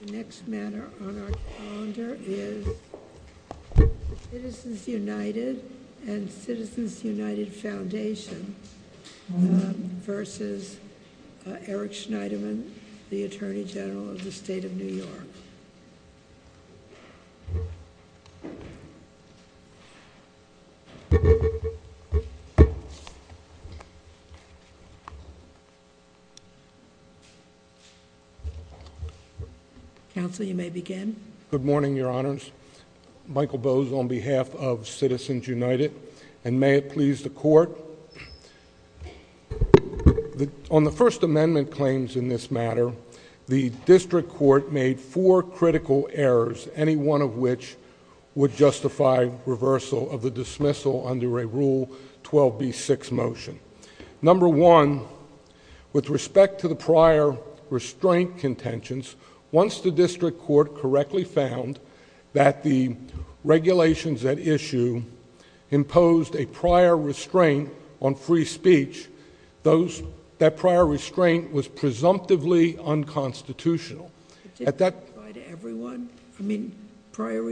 The next banner on our calendar is Citizens United and Citizens United Foundation v. Eric Schneiderman, the Attorney General of the State of New York. Counsel, you may begin. Good morning, Your Honors. Michael Bowes on behalf of Citizens United, and may it please the Court. On the First Amendment claims in this matter, the District Court made four critical errors, any one of which would justify reversal of the dismissal under a Rule 12b6 motion. Number one, with respect to the prior restraint contentions, once the District Court correctly found that the regulations at issue imposed a prior restraint on free speech, that prior restraint was presumptively unconstitutional. Prior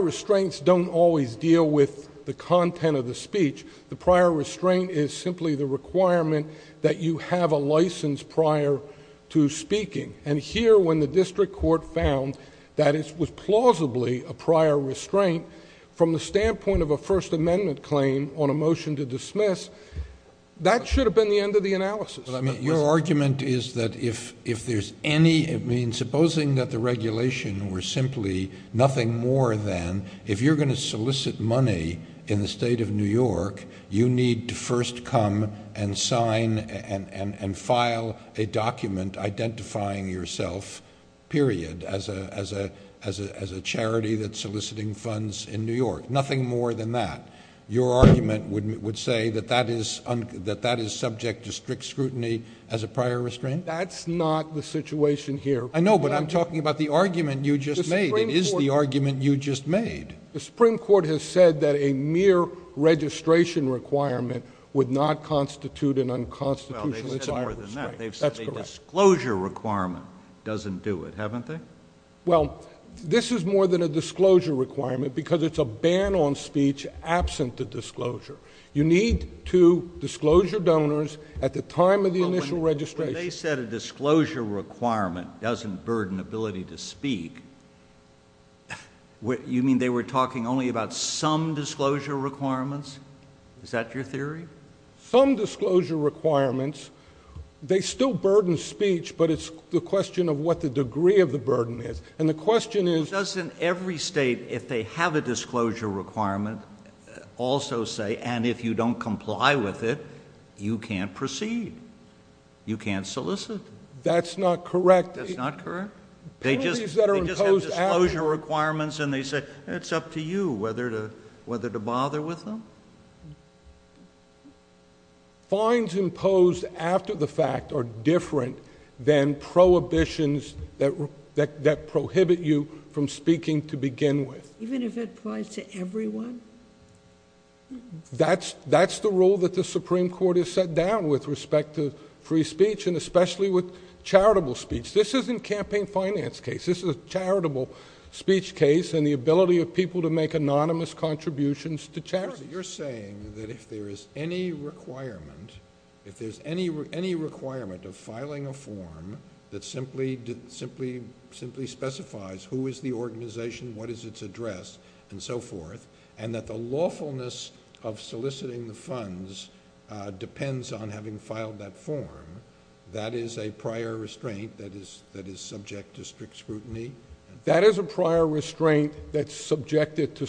restraints do not always deal with the content of the speech. The prior restraint is simply the requirement that you have a license prior to speaking. And here, when the District Court found that it was plausibly a prior restraint, from the standpoint of a First Amendment claim on a motion to dismiss, that should have been the end of the analysis. Your argument is that if there's any, supposing that the regulation were simply nothing more than, if you're going to solicit money in the State of New York, you need to first come and sign and file a document identifying yourself, period, as a charity that's soliciting funds in New York. Nothing more than that. Your argument would say that that is subject to strict scrutiny as a prior restraint? That's not the situation here. I know, but I'm talking about the argument you just made. It is the argument you just made. The Supreme Court has said that a mere registration requirement would not constitute an unconstitutional prior restraint. Well, they've said more than that. That's correct. They've said a disclosure requirement doesn't do it, haven't they? Well, this is more than a disclosure requirement, because it's a ban on speech absent the disclosure. You need to disclose your donors at the time of the initial registration. They said a disclosure requirement doesn't burden ability to speak. You mean they were talking only about some disclosure requirements? Is that your theory? Some disclosure requirements, they still burden speech, but it's the question of what the degree of the burden is. And the question is— Doesn't every state, if they have a disclosure requirement, also say, and if you don't comply with it, you can't proceed? You can't solicit? That's not correct. That's not correct? They just have disclosure requirements, and they said, it's up to you whether to bother with them? Fines imposed after the fact are different than prohibitions that prohibit you from speaking to begin with. Even if it applies to everyone? That's the rule that the Supreme Court has set down with respect to free speech, and especially with charitable speech. This isn't campaign finance case. This is a charitable speech case, and the ability of people to make anonymous contributions to charity. You're saying that if there's any requirement, if there's any requirement of filing a form that simply specifies who is the organization, what is its address, and so forth, and that the lawfulness of soliciting the funds depends on having filed that form, that is a prior restraint that is subject to strict scrutiny? That is a prior restraint that's subjected to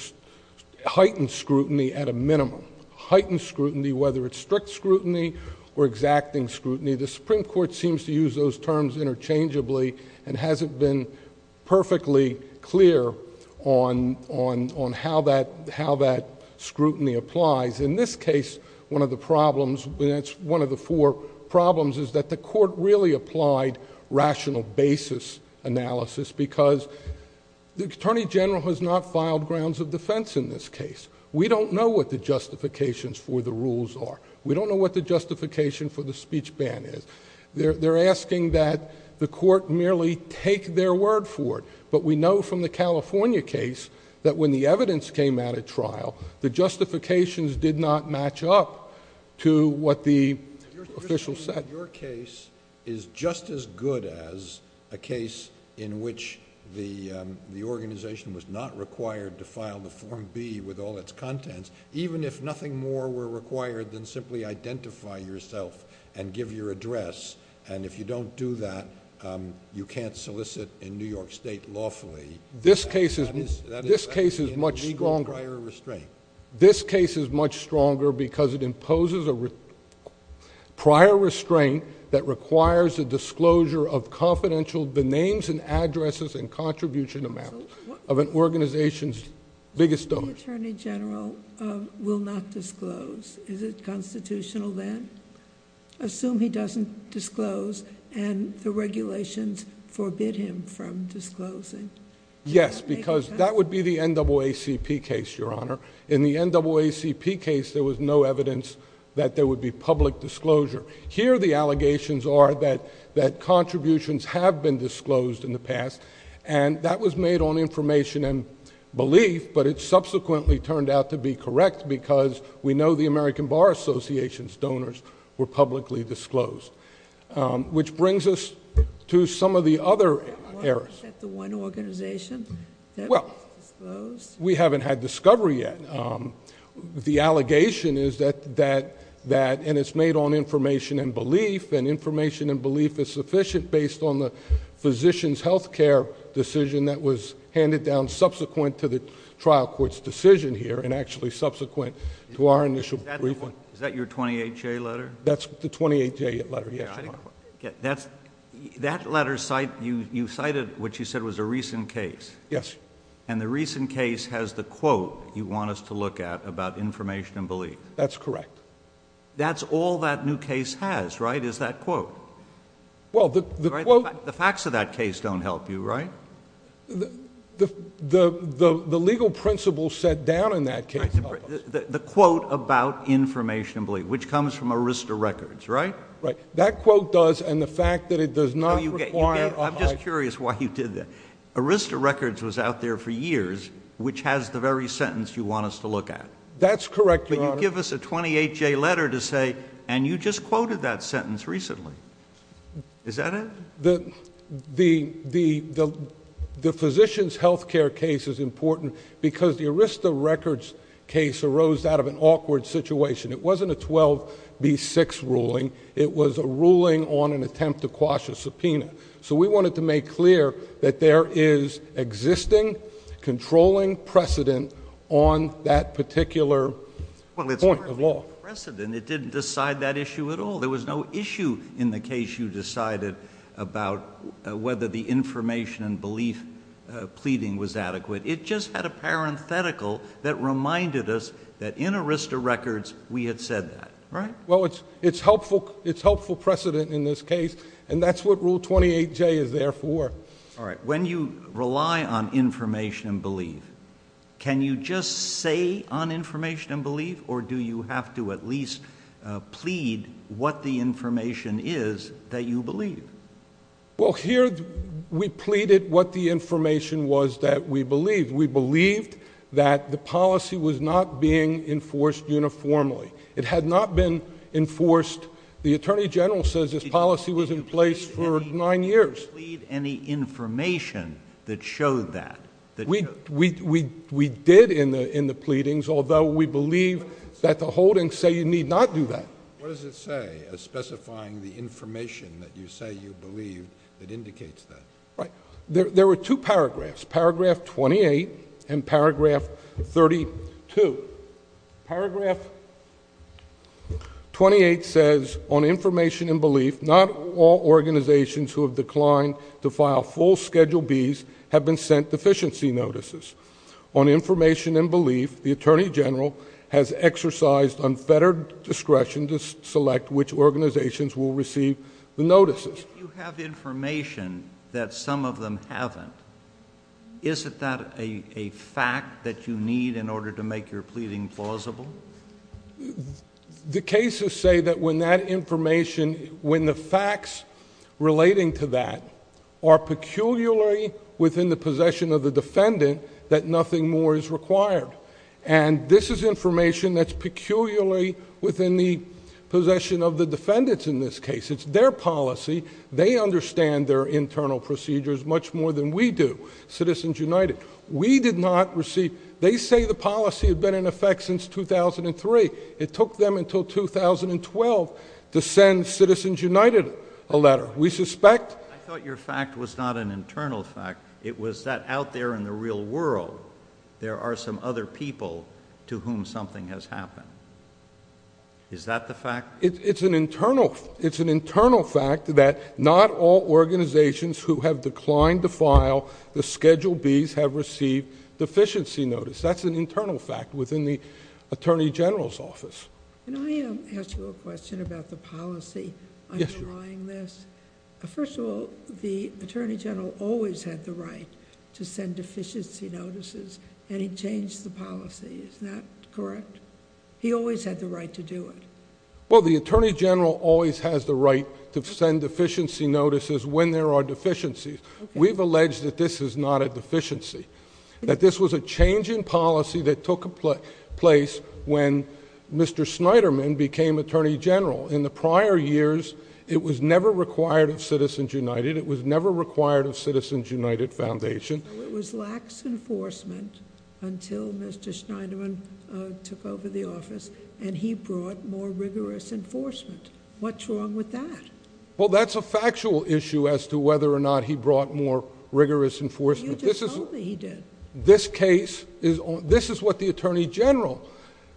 heightened scrutiny at a minimum. Heightened scrutiny, whether it's strict scrutiny or exacting scrutiny. The Supreme Court seems to use those terms interchangeably and hasn't been perfectly clear on how that scrutiny applies. In this case, one of the problems, and it's one of the four problems, is that the court really applied rational basis analysis, because the Attorney General has not filed grounds of defense in this case. We don't know what the justifications for the rules are. We don't know what the justification for the speech ban is. They're asking that the court merely take their word for it, but we know from the California case that when the evidence came out at trial, the justifications did not match up to what the official said. Your case is just as good as a case in which the organization was not required to file the Form B with all its contents, even if nothing more were required than simply identify yourself and give your address, and if you don't do that, you can't solicit in New York State lawfully. This case is much stronger because it imposes a prior restraint that requires a disclosure of confidential names and addresses and contribution amounts of an organization's biggest donors. The Attorney General will not disclose. Is it constitutional then? Assume he doesn't disclose and the regulations forbid him from disclosing. Yes, because that would be the NAACP case, Your Honor. In the NAACP case, there was no evidence that there would be public disclosure. Here the allegations are that contributions have been disclosed in the past, and that was made on information and belief, but it subsequently turned out to be correct because we know the American Bar Association's donors were publicly disclosed, which brings us to some of the other errors. Was that the one organization that was disclosed? Well, we haven't had discovery yet. The allegation is that, and it's made on information and belief, and information and belief is sufficient based on the physician's health care decision that was handed down subsequent to the trial court's decision here and actually subsequent to our initial briefing. Is that your 28-J letter? That's the 28-J letter, yes. That letter, you cited what you said was a recent case. Yes. And the recent case has the quote you want us to look at about information and belief. That's correct. That's all that new case has, right, is that quote. The facts of that case don't help you, right? The legal principle set down in that case. The quote about information and belief, which comes from Arista Records, right? Right. That quote does, and the fact that it does not require a… I'm just curious why you did that. Arista Records was out there for years, which has the very sentence you want us to look at. That's correct, Your Honor. Can you give us a 28-J letter to say, and you just quoted that sentence recently. Is that it? The physician's health care case is important because the Arista Records case arose out of an awkward situation. It wasn't a 12B6 ruling. It was a ruling on an attempt to quash a subpoena. So we wanted to make clear that there is existing controlling precedent on that particular point of law. Well, it's not precedent. It didn't decide that issue at all. There was no issue in the case you decided about whether the information and belief pleading was adequate. It just had a parenthetical that reminded us that in Arista Records we had said that, right? Well, it's helpful precedent in this case. And that's what Rule 28-J is there for. All right. When you rely on information and belief, can you just say on information and belief, or do you have to at least plead what the information is that you believe? Well, here we pleaded what the information was that we believed. We believed that the policy was not being enforced uniformly. It had not been enforced. The Attorney General says this policy was in place for nine years. Did you plead any information that showed that? We did in the pleadings, although we believe that the holdings say you need not do that. What does it say specifying the information that you say you believe that indicates that? Right. There were two paragraphs, paragraph 28 and paragraph 32. Paragraph 28 says, on information and belief, not all organizations who have declined to file full Schedule Bs have been sent deficiency notices. On information and belief, the Attorney General has exercised unfettered discretion to select which organizations will receive the notices. You have information that some of them haven't. Isn't that a fact that you need in order to make your pleading plausible? The cases say that when that information, when the facts relating to that are peculiarly within the possession of the defendant, that nothing more is required. And this is information that's peculiarly within the possession of the defendants in this case. It's their policy. They understand their internal procedures much more than we do, Citizens United. We did not receive, they say the policy had been in effect since 2003. It took them until 2012 to send Citizens United a letter. We suspect. I thought your fact was not an internal fact. It was that out there in the real world, there are some other people to whom something has happened. Is that the fact? It's an internal fact that not all organizations who have declined to file the Schedule Bs have received deficiency notice. That's an internal fact within the Attorney General's office. Can I ask you a question about the policy underlying this? First of all, the Attorney General always had the right to send deficiency notices, and he changed the policy. Isn't that correct? He always had the right to do it. Well, the Attorney General always has the right to send deficiency notices when there are deficiencies. We've alleged that this is not a deficiency, that this was a change in policy that took place when Mr. Schneiderman became Attorney General. In the prior years, it was never required of Citizens United. It was never required of Citizens United Foundation. It was lax enforcement until Mr. Schneiderman took over the office, and he brought more rigorous enforcement. What's wrong with that? Well, that's a factual issue as to whether or not he brought more rigorous enforcement. You just told me he did. This case is on—this is what the Attorney General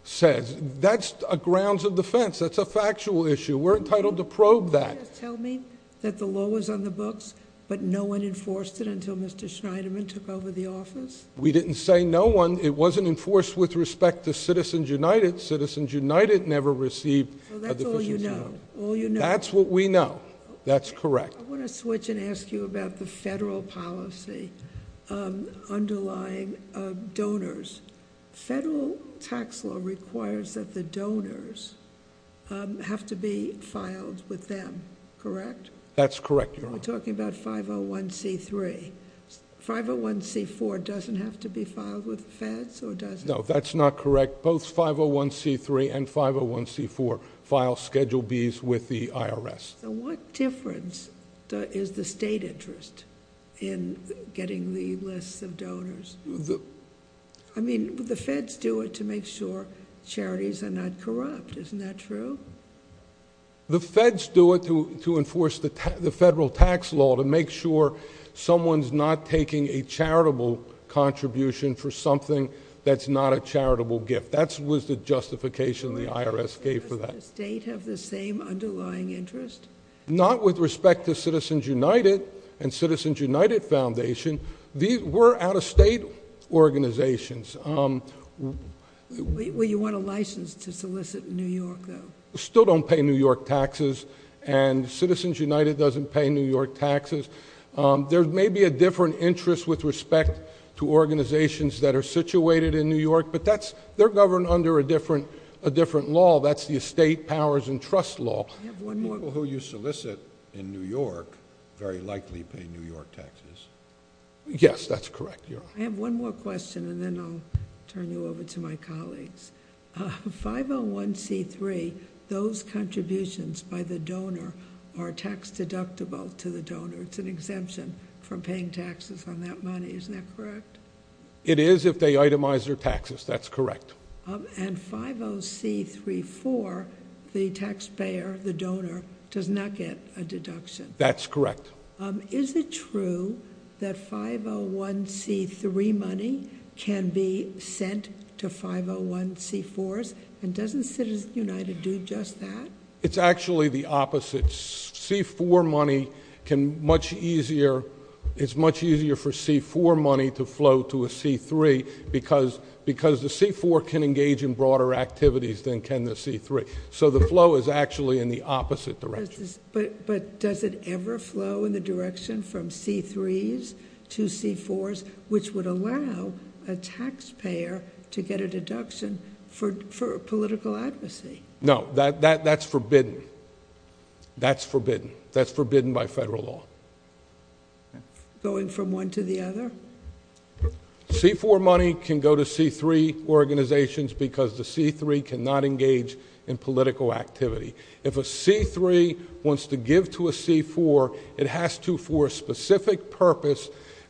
says. That's a grounds of defense. That's a factual issue. We're entitled to probe that. Didn't you just tell me that the law was on the books, but no one enforced it until Mr. Schneiderman took over the office? We didn't say no one. It wasn't enforced with respect to Citizens United. Citizens United never received a deficiency notice. That's all you know. That's what we know. That's correct. I want to switch and ask you about the federal policy underlying donors. Federal tax law requires that the donors have to be filed with them, correct? That's correct, Your Honor. We're talking about 501c3. 501c4 doesn't have to be filed with the feds, or does it? No, that's not correct. Both 501c3 and 501c4 file Schedule Bs with the IRS. What difference is the state interest in getting the list of donors? I mean, the feds do it to make sure charities are not corrupt. Isn't that true? The feds do it to enforce the federal tax law to make sure someone's not taking a charitable contribution for something that's not a charitable gift. That was the justification the IRS gave for that. Does the state have the same underlying interest? Not with respect to Citizens United and Citizens United Foundation. These were out-of-state organizations. Well, you want a license to solicit in New York, though. Still don't pay New York taxes, and Citizens United doesn't pay New York taxes. There may be a different interest with respect to organizations that are situated in New York, but they're governed under a different law. That's the estate powers and trust law. People who you solicit in New York very likely pay New York taxes. Yes, that's correct. I have one more question, and then I'll turn you over to my colleagues. 501c3, those contributions by the donor are tax-deductible to the donor. It's an exemption from paying taxes on that money. Isn't that correct? It is if they itemize their taxes. That's correct. And 501c34, the taxpayer, the donor, does not get a deduction. That's correct. Is it true that 501c3 money can be sent to 501c4s, and doesn't Citizens United do just that? It's actually the opposite. It's much easier for C4 money to flow to a C3, because the C4 can engage in broader activities than can the C3. So the flow is actually in the opposite direction. But does it ever flow in the direction from C3s to C4s, which would allow a taxpayer to get a deduction for political advocacy? No, that's forbidden. That's forbidden. That's forbidden by federal law. Going from one to the other? C4 money can go to C3 organizations because the C3 cannot engage in political activity. If a C3 wants to give to a C4, it has to for a specific purpose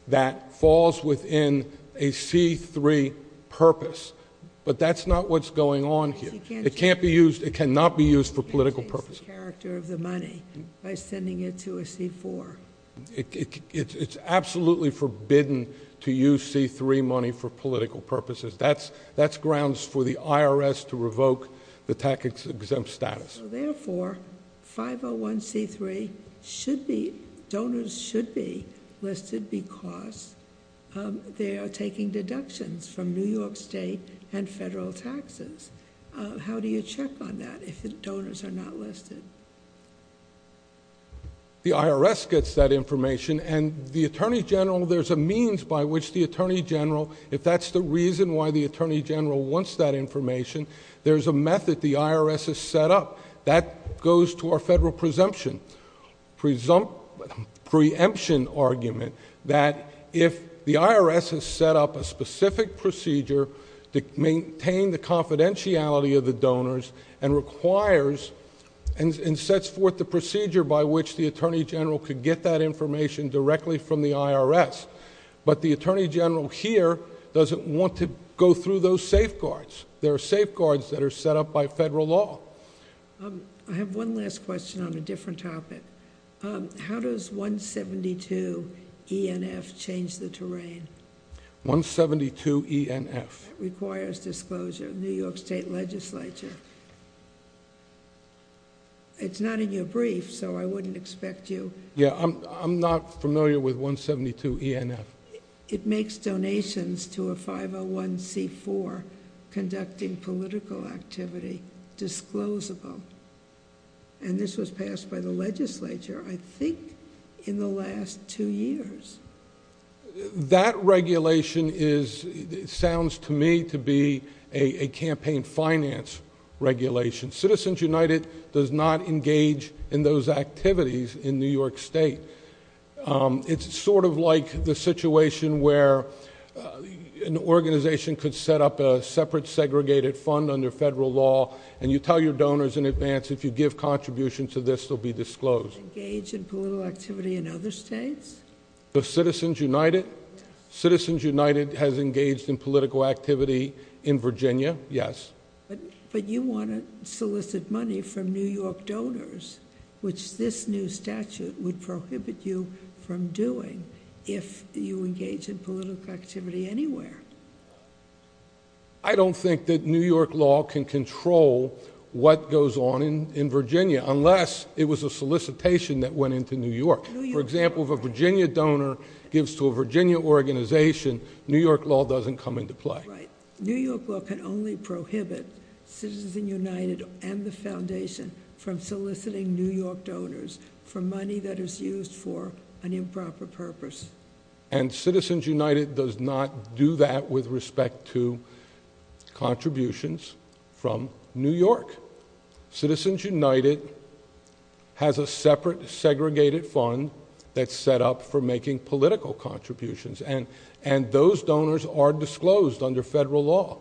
that falls within a C3 purpose. But that's not what's going on here. It cannot be used for political purposes. It changes the character of the money by sending it to a C4. It's absolutely forbidden to use C3 money for political purposes. That's grounds for the IRS to revoke the tax-exempt status. So therefore, 501C3 donors should be listed because they are taking deductions from New York State and federal taxes. How do you check on that if the donors are not listed? The IRS gets that information. And the Attorney General, there's a means by which the Attorney General, if that's the reason why the Attorney General wants that information, there's a method. If the IRS is set up, that goes to our federal presumption argument that if the IRS has set up a specific procedure to maintain the confidentiality of the donors and requires and sets forth the procedure by which the Attorney General could get that information directly from the IRS, but the Attorney General here doesn't want to go through those safeguards. There are safeguards that are set up by federal law. I have one last question on a different topic. How does 172ENF change the terrain? 172ENF. Requires disclosure. New York State Legislature. It's not in your brief, so I wouldn't expect you... Yeah, I'm not familiar with 172ENF. It makes donations to a 501C4 conducting political activity disclosable. And this was passed by the legislature, I think, in the last two years. That regulation sounds to me to be a campaign finance regulation. Citizens United does not engage in those activities in New York State. It's sort of like the situation where an organization could set up a separate segregated fund under federal law and you tell your donors in advance if you give contributions to this, they'll be disclosed. Engage in political activity in other states? Citizens United? Citizens United has engaged in political activity in Virginia, yes. But you want to solicit money from New York donors, which this new statute would prohibit you from doing if you engage in political activity anywhere. I don't think that New York law can control what goes on in Virginia unless it was a solicitation that went into New York. For example, if a Virginia donor gives to a Virginia organization, New York law doesn't come into play. New York law can only prohibit Citizens United and the Foundation from soliciting New York donors for money that is used for an improper purpose. And Citizens United does not do that with respect to contributions from New York. Citizens United has a separate segregated fund that's set up for making political contributions. And those donors are disclosed under federal law.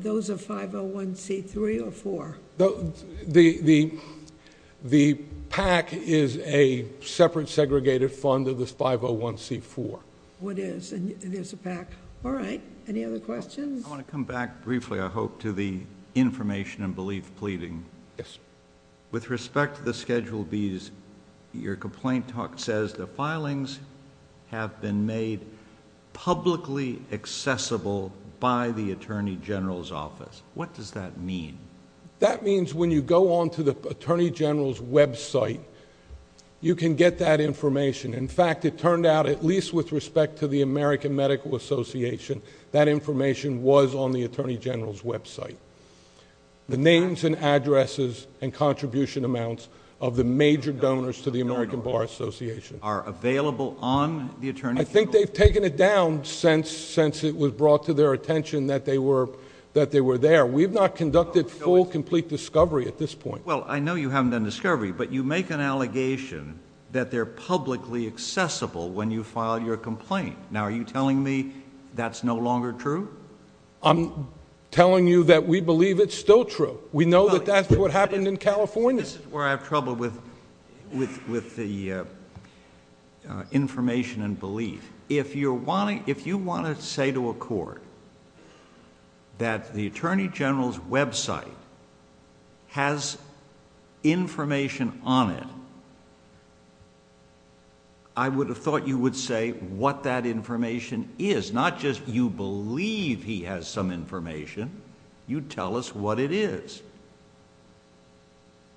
Those are 501c3 or 501c4? The PAC is a separate segregated fund of the 501c4. It is. It is a PAC. All right. Any other questions? I want to come back briefly, I hope, to the information and belief pleading. Yes. With respect to the Schedule Bs, your complaint says the filings have been made publicly accessible by the Attorney General's office. What does that mean? That means when you go onto the Attorney General's website, you can get that information. In fact, it turned out, at least with respect to the American Medical Association, that information was on the Attorney General's website. The names and addresses and contribution amounts of the major donors to the American Bar Association. Are available on the Attorney General's website? I think they've taken it down since it was brought to their attention that they were there. We've not conducted full, complete discovery at this point. Well, I know you haven't done discovery, but you make an allegation that they're publicly accessible when you file your complaint. Now, are you telling me that's no longer true? I'm telling you that we believe it's still true. We know that that's what happened in California. This is where I have trouble with the information and belief. If you want to say to a court that the Attorney General's website has information on it, I would have thought you would say what that information is, not just you believe he has some information, you tell us what it is.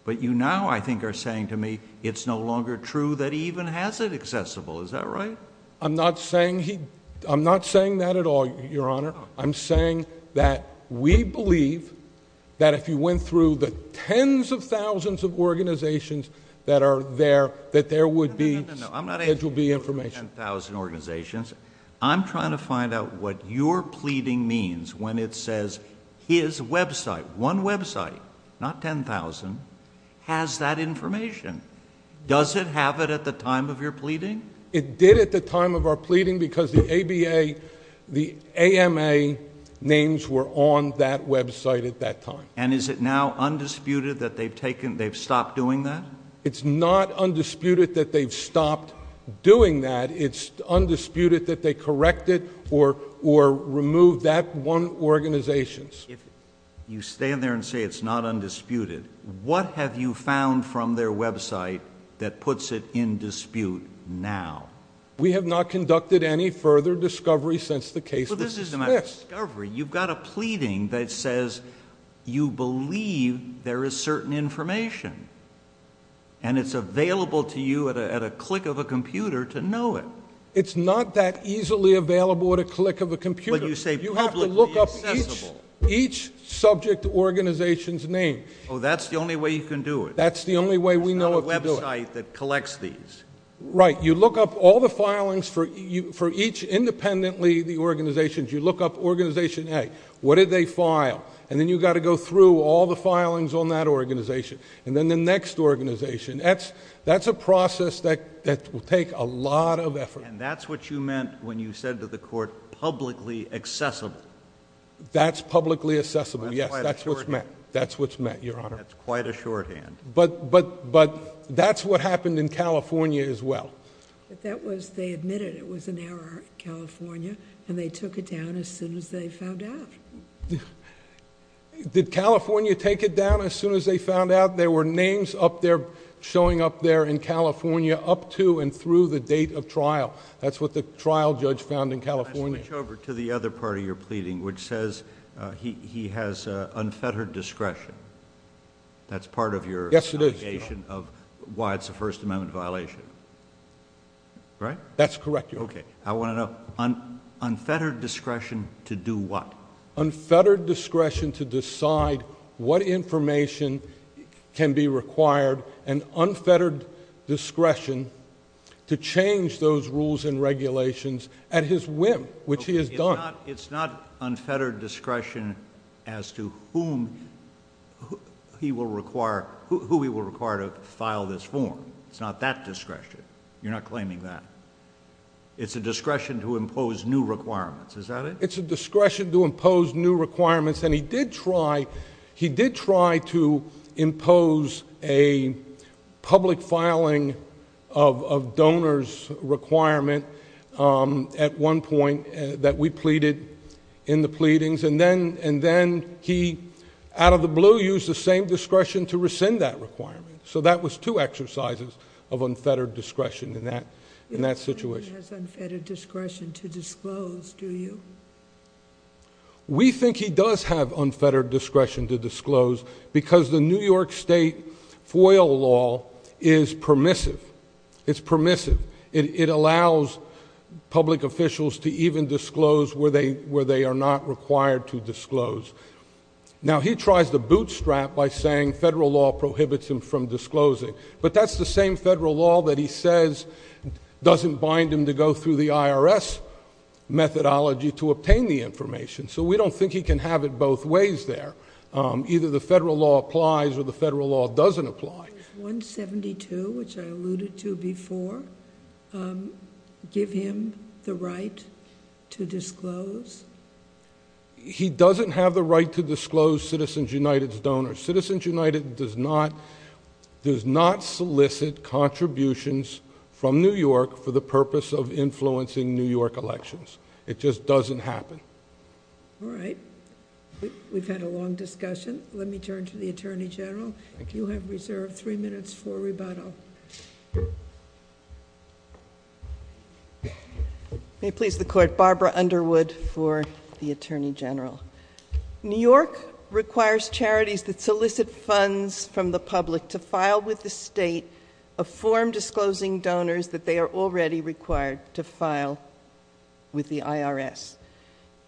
But you now, I think, are saying to me it's no longer true that he even has it accessible. Is that right? I'm not saying that at all, Your Honor. I'm saying that we believe that if you went through the tens of thousands of organizations that are there, that there would be information. I'm not asking you to go through ten thousand organizations. I'm trying to find out what your pleading means when it says his website, one website, not ten thousand, has that information. Does it have it at the time of your pleading? It did at the time of our pleading because the ABA, the AMA names were on that website at that time. And is it now undisputed that they've stopped doing that? It's not undisputed that they've stopped doing that. And it's undisputed that they corrected or removed that one organization. If you stand there and say it's not undisputed, what have you found from their website that puts it in dispute now? We have not conducted any further discovery since the case was fixed. Well, this isn't a discovery. You've got a pleading that says you believe there is certain information. And it's available to you at a click of a computer to know it. It's not that easily available at a click of a computer. But you say publicly accessible. You have to look up each subject organization's name. Well, that's the only way you can do it. That's the only way we know what to do it. There's a website that collects these. Right. You look up all the filings for each independently the organizations. You look up organization A. What did they file? And then you've got to go through all the filings on that organization. And then the next organization. That's a process that will take a lot of effort. And that's what you meant when you said to the court publicly accessible. That's publicly accessible. Yes, that's what's meant. That's quite a shorthand. That's what's meant, Your Honor. That's quite a shorthand. But that's what happened in California as well. They admitted it was an error in California, and they took it down as soon as they found out. Did California take it down as soon as they found out? There were names up there showing up there in California up to and through the date of trial. That's what the trial judge found in California. Let me switch over to the other part of your pleading, which says he has unfettered discretion. That's part of your allegation of why it's a First Amendment violation, right? That's correct, Your Honor. Okay. Unfettered discretion to do what? Unfettered discretion to decide what information can be required and unfettered discretion to change those rules and regulations at his whim, which he has done. It's not unfettered discretion as to whom he will require to file this form. It's not that discretion. You're not claiming that. It's a discretion to impose new requirements. Is that it? It's a discretion to impose new requirements. And he did try to impose a public filing of donors' requirement at one point that we pleaded in the pleadings. And then he, out of the blue, used the same discretion to rescind that requirement. So that was two exercises of unfettered discretion in that situation. He doesn't have unfettered discretion to disclose, do you? We think he does have unfettered discretion to disclose because the New York State FOIL law is permissive. It's permissive. It allows public officials to even disclose where they are not required to disclose. Now, he tries to bootstrap by saying federal law prohibits him from disclosing. But that's the same federal law that he says doesn't bind him to go through the IRS methodology to obtain the information. So we don't think he can have it both ways there. Either the federal law applies or the federal law doesn't apply. Does 172, which I alluded to before, give him the right to disclose? He doesn't have the right to disclose Citizens United's donors. Citizens United does not solicit contributions from New York for the purpose of influencing New York elections. It just doesn't happen. All right. We've had a long discussion. Let me turn to the Attorney General. You have reserved three minutes for rebuttal. Barbara Underwood for the Attorney General. New York requires charities that solicit funds from the public to file with the state a form disclosing donors that they are already required to file with the IRS.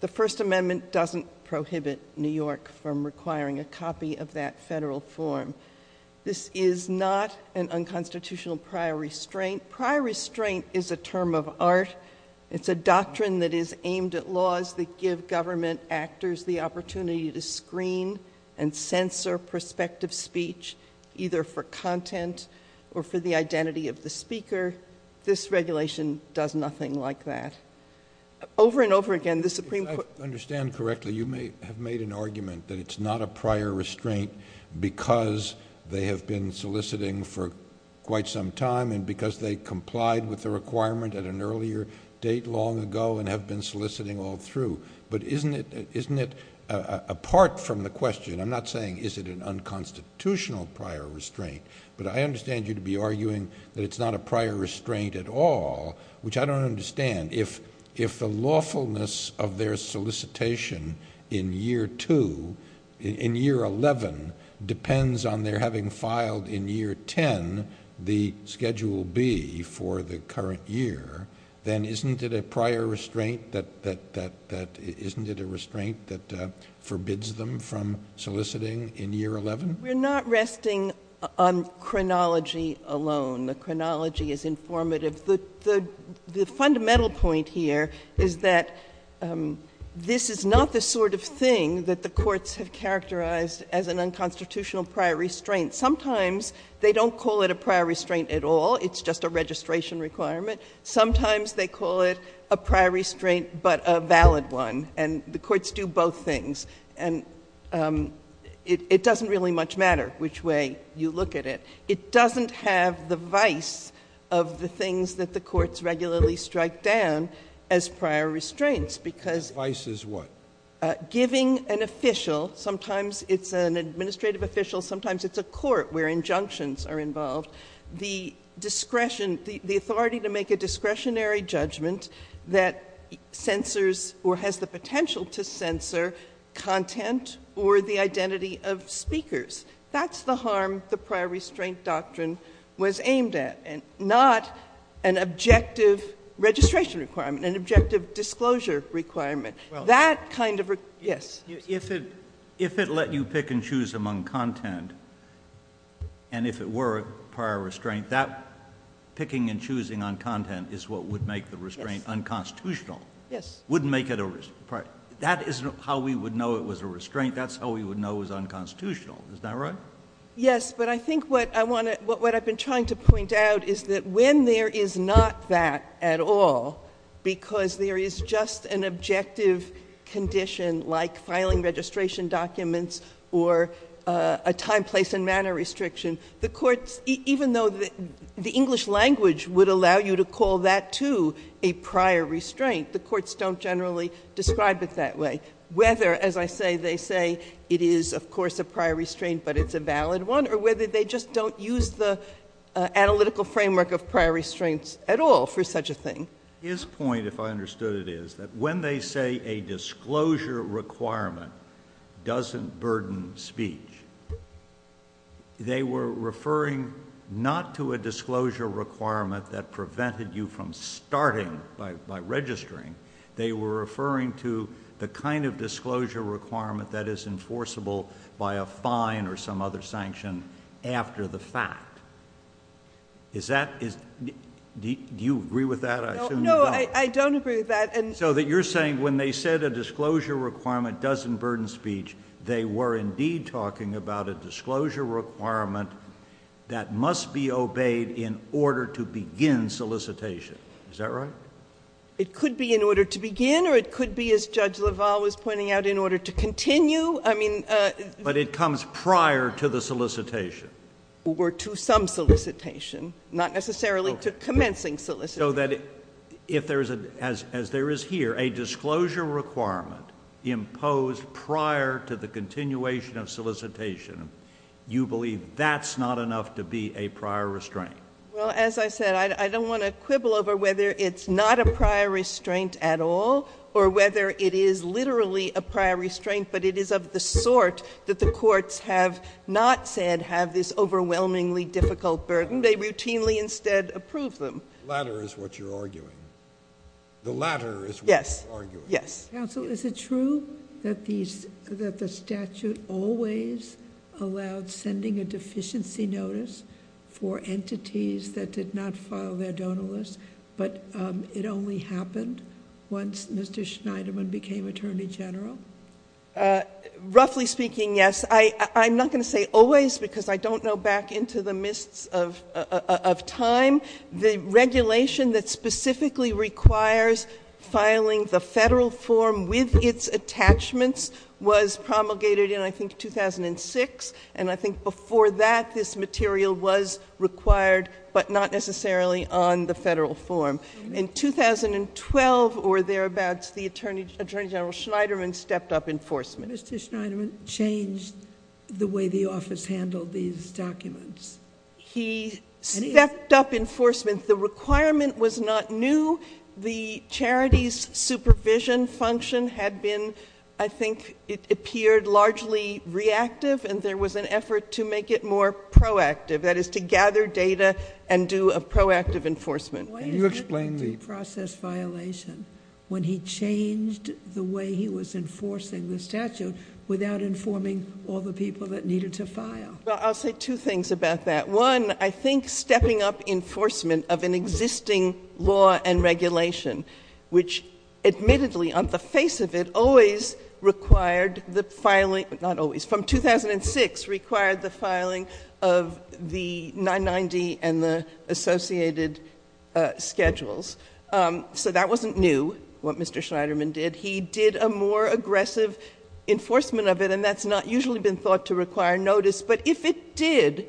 The First Amendment doesn't prohibit New York from requiring a copy of that federal form. This is not an unconstitutional prior restraint. Prior restraint is a term of art. It's a doctrine that is aimed at laws that give government actors the opportunity to screen and censor prospective speech, either for content or for the identity of the speaker. This regulation does nothing like that. Over and over again, the Supreme Court – If I understand correctly, you have made an argument that it's not a prior restraint because they have been soliciting for quite some time and because they complied with the requirement at an earlier date long ago and have been soliciting all through. But isn't it – apart from the question, I'm not saying is it an unconstitutional prior restraint, but I understand you to be arguing that it's not a prior restraint at all, which I don't understand. If the lawfulness of their solicitation in year two – in year 11 depends on their having filed in year 10 the Schedule B for the current year, then isn't it a prior restraint that – isn't it a restraint that forbids them from soliciting in year 11? We're not resting on chronology alone. The chronology is informative. The fundamental point here is that this is not the sort of thing that the courts have characterized as an unconstitutional prior restraint. Sometimes they don't call it a prior restraint at all. It's just a registration requirement. Sometimes they call it a prior restraint but a valid one. And the courts do both things. And it doesn't really much matter which way you look at it. It doesn't have the vice of the things that the courts regularly strike down as prior restraints because – Vice is what? Giving an official – sometimes it's an administrative official, sometimes it's a court where injunctions are involved – the discretion – the authority to make a discretionary judgment that censors or has the potential to censor content or the identity of speakers. That's the harm the prior restraint doctrine was aimed at and not an objective registration requirement, an objective disclosure requirement. That kind of – yes. If it let you pick and choose among content and if it were a prior restraint, that picking and choosing on content is what would make the restraint unconstitutional. Yes. Wouldn't make it a – that isn't how we would know it was a restraint. That's how we would know it was unconstitutional. Is that right? Yes. But I think what I want to – what I've been trying to point out is that when there is not that at all because there is just an objective condition like filing registration documents or a time, place, and manner restriction, the courts – even though the English language would allow you to call that, too, a prior restraint, the courts don't generally describe it that way. Whether, as I say, they say it is, of course, a prior restraint but it's a valid one or whether they just don't use the analytical framework of prior restraints at all for such a thing. His point, if I understood it, is that when they say a disclosure requirement doesn't burden speech, they were referring not to a disclosure requirement that prevented you from starting by registering. They were referring to the kind of disclosure requirement that is enforceable by a fine or some other sanction after the fact. Is that – do you agree with that? No, I don't agree with that. So that you're saying when they said a disclosure requirement doesn't burden speech, they were indeed talking about a disclosure requirement that must be obeyed in order to begin solicitation. Is that right? It could be in order to begin or it could be, as Judge LaValle was pointing out, in order to continue. But it comes prior to the solicitation. Or to some solicitation, not necessarily to commencing solicitation. So that if there's a – as there is here, a disclosure requirement imposed prior to the continuation of solicitation, you believe that's not enough to be a prior restraint? Well, as I said, I don't want to quibble over whether it's not a prior restraint at all or whether it is literally a prior restraint, but it is of the sort that the courts have not said have this overwhelmingly difficult burden. They routinely instead approve them. The latter is what you're arguing. The latter is what you're arguing. Yes. Counsel, is it true that the statute always allowed sending a deficiency notice for entities that did not file their donor list, but it only happened once Mr. Schneiderman became Attorney General? Roughly speaking, yes. I'm not going to say always because I don't know back into the mists of time. The regulation that specifically requires filing the federal form with its attachments was promulgated in, I think, 2006. And I think before that, this material was required, but not necessarily on the federal form. In 2012 or thereabouts, the Attorney General Schneiderman stepped up enforcement. Mr. Schneiderman changed the way the office handled these documents? He stepped up enforcement. The requirement was not new. The charity's supervision function had been, I think it appeared, largely reactive, and there was an effort to make it more proactive, that is to gather data and do a proactive enforcement. Can you explain the process violation when he changed the way he was enforcing the statute without informing all the people that needed to file? Well, I'll say two things about that. One, I think stepping up enforcement of an existing law and regulation, which admittedly on the face of it always required the filing, not always, from 2006 required the filing of the 990 and the associated schedules. So that wasn't new, what Mr. Schneiderman did. He did a more aggressive enforcement of it, and that's not usually been thought to require notice. But if it did,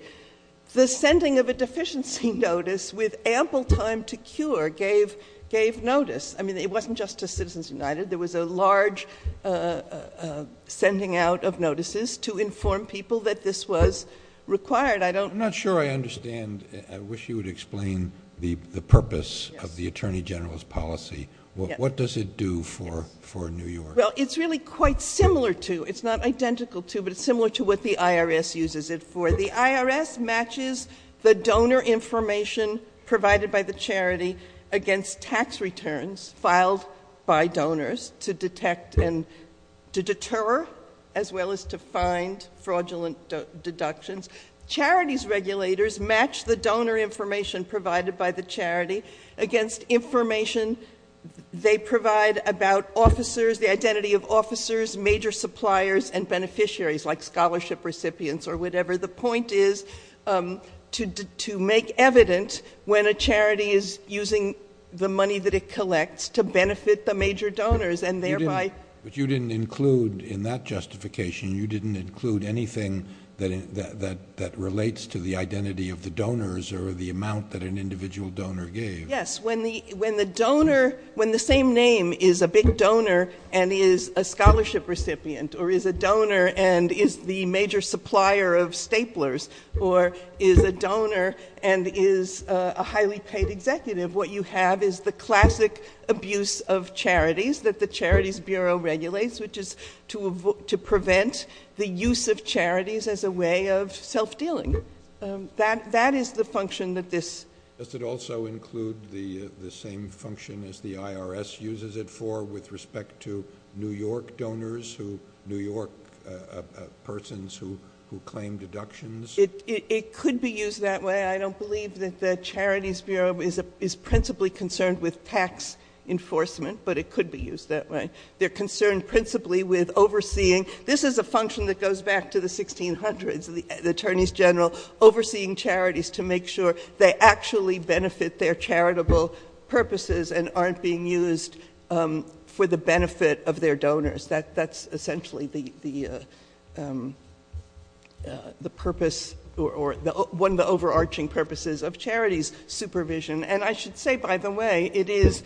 the sending of a deficiency notice with ample time to cure gave notice. I mean, it wasn't just to Citizens United. There was a large sending out of notices to inform people that this was required. I'm not sure I understand. I wish you would explain the purpose of the Attorney General's policy. What does it do for New York? Well, it's really quite similar to, it's not identical to, but it's similar to what the IRS uses it for. The IRS matches the donor information provided by the charity against tax returns filed by donors to detect and to deter, as well as to find fraudulent deductions. Charity's regulators match the donor information provided by the charity against information they provide about officers, the identity of officers, major suppliers, and beneficiaries, like scholarship recipients or whatever. The point is to make evidence when a charity is using the money that it collects to benefit the major donors and thereby. But you didn't include in that justification, you didn't include anything that relates to the identity of the donors or the amount that an individual donor gave. Yes, when the donor, when the same name is a big donor and is a scholarship recipient or is a donor and is the major supplier of staplers or is a donor and is a highly paid executive, what you have is the classic abuse of charities that the Charities Bureau regulates, which is to prevent the use of charities as a way of self-dealing. That is the function that this. Does it also include the same function as the IRS uses it for with respect to New York donors, New York persons who claim deductions? It could be used that way. I don't believe that the Charities Bureau is principally concerned with tax enforcement, but it could be used that way. They're concerned principally with overseeing. This is a function that goes back to the 1600s, the attorneys general overseeing charities to make sure they actually benefit their charitable purposes and aren't being used for the benefit of their donors. That's essentially the purpose or one of the overarching purposes of charities, supervision. And I should say, by the way, it is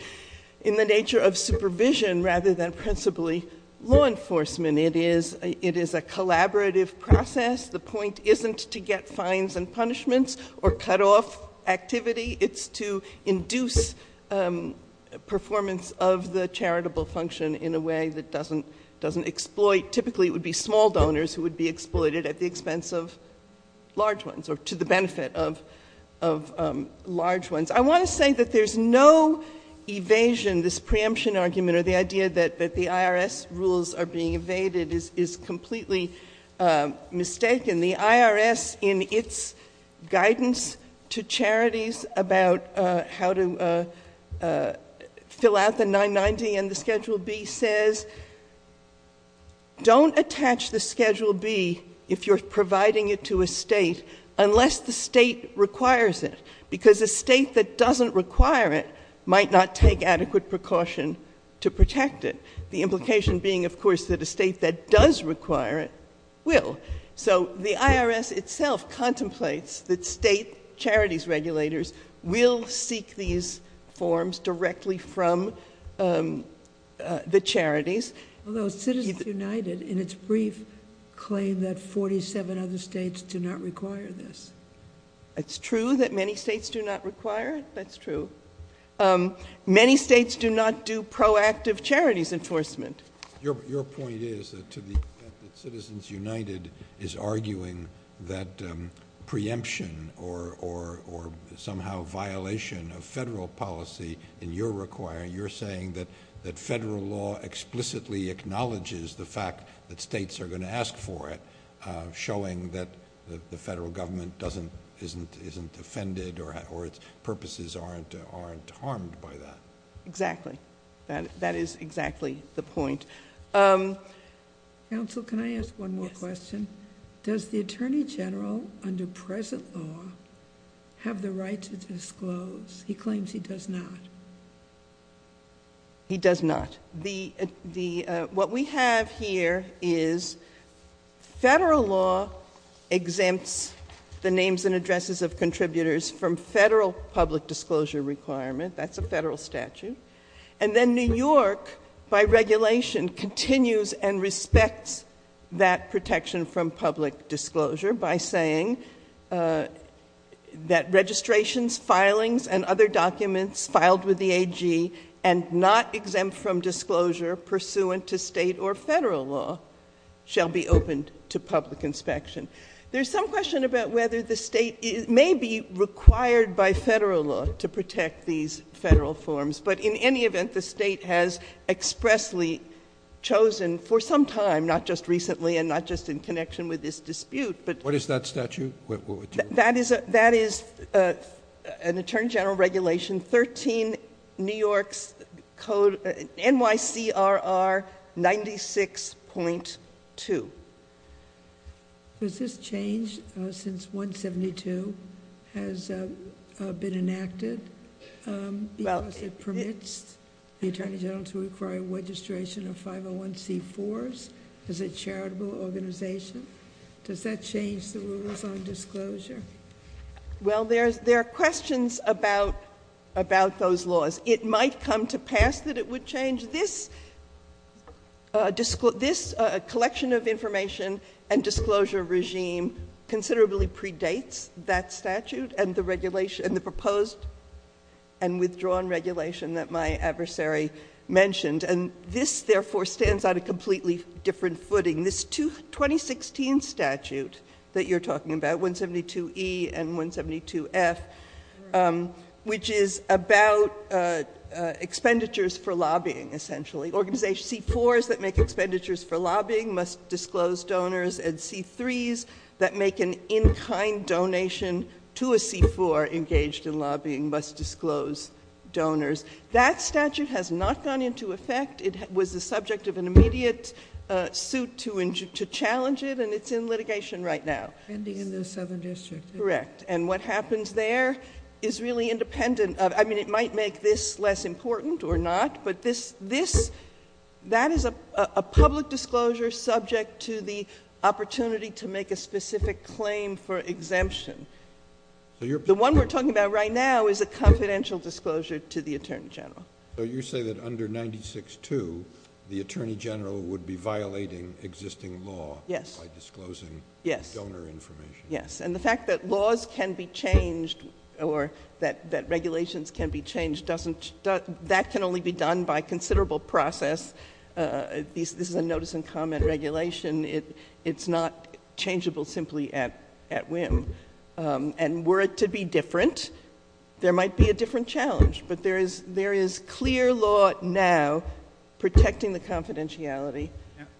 in the nature of supervision rather than principally law enforcement. It is a collaborative process. The point isn't to get fines and punishments or cut off activity. It's to induce performance of the charitable function in a way that doesn't exploit. Typically it would be small donors who would be exploited at the expense of large ones or to the benefit of large ones. I want to say that there's no evasion. This preemption argument or the idea that the IRS rules are being evaded is completely mistaken. The IRS, in its guidance to charities about how to fill out the 990 and the Schedule B, says don't attach the Schedule B if you're providing it to a state unless the state requires it, because a state that doesn't require it might not take adequate precaution to protect it, the implication being, of course, that a state that does require it will. So the IRS itself contemplates that state charities regulators will seek these forms directly from the charities. Although Citizens United, in its brief, claimed that 47 other states do not require this. It's true that many states do not require it. That's true. Many states do not do proactive charities enforcement. Your point is that Citizens United is arguing that preemption or somehow violation of federal policy, and you're saying that federal law explicitly acknowledges the fact that states are going to ask for it, showing that the federal government isn't offended or its purposes aren't harmed by that. Exactly. That is exactly the point. Counsel, can I ask one more question? Does the Attorney General, under present law, have the right to disclose? He claims he does not. He does not. What we have here is federal law exempts the names and addresses of contributors from federal public disclosure requirement. That's a federal statute. And then New York, by regulation, continues and respects that protection from public disclosure by saying that registrations, filings, and other documents filed with the AG and not exempt from disclosure pursuant to state or federal law shall be opened to public inspection. There's some question about whether the state may be required by federal law to protect these federal forms. But in any event, the state has expressly chosen for some time, not just recently and not just in connection with this dispute. What is that statute? That is an Attorney General regulation, 13 New York's Code, NYCRR 96.2. Has this changed since 172 has been enacted? It permits the Attorney General to require registration of 501c4s as a charitable organization. Does that change the rules on disclosure? Well, there are questions about those laws. It might come to pass that it would change. This collection of information and disclosure regime considerably predates that statute and the proposed and withdrawn regulation that my adversary mentioned. And this, therefore, stands on a completely different footing. This 2016 statute that you're talking about, 172E and 172F, which is about expenditures for lobbying, essentially. Organization C4s that make expenditures for lobbying must disclose donors, and C3s that make an in-kind donation to a C4 engaged in lobbying must disclose donors. That statute has not gone into effect. It was the subject of an immediate suit to challenge it, and it's in litigation right now. Ending in the Southern District. Correct. And what happens there is really independent. I mean, it might make this less important or not, but that is a public disclosure subject to the opportunity to make a specific claim for exemption. The one we're talking about right now is a confidential disclosure to the Attorney General. So you say that under 96-2, the Attorney General would be violating existing law by disclosing donor information. Yes. And the fact that laws can be changed or that regulations can be changed, that can only be done by considerable process. This is a notice and comment regulation. It's not changeable simply at whim. And were it to be different, there might be a different challenge. But there is clear law now protecting the confidentiality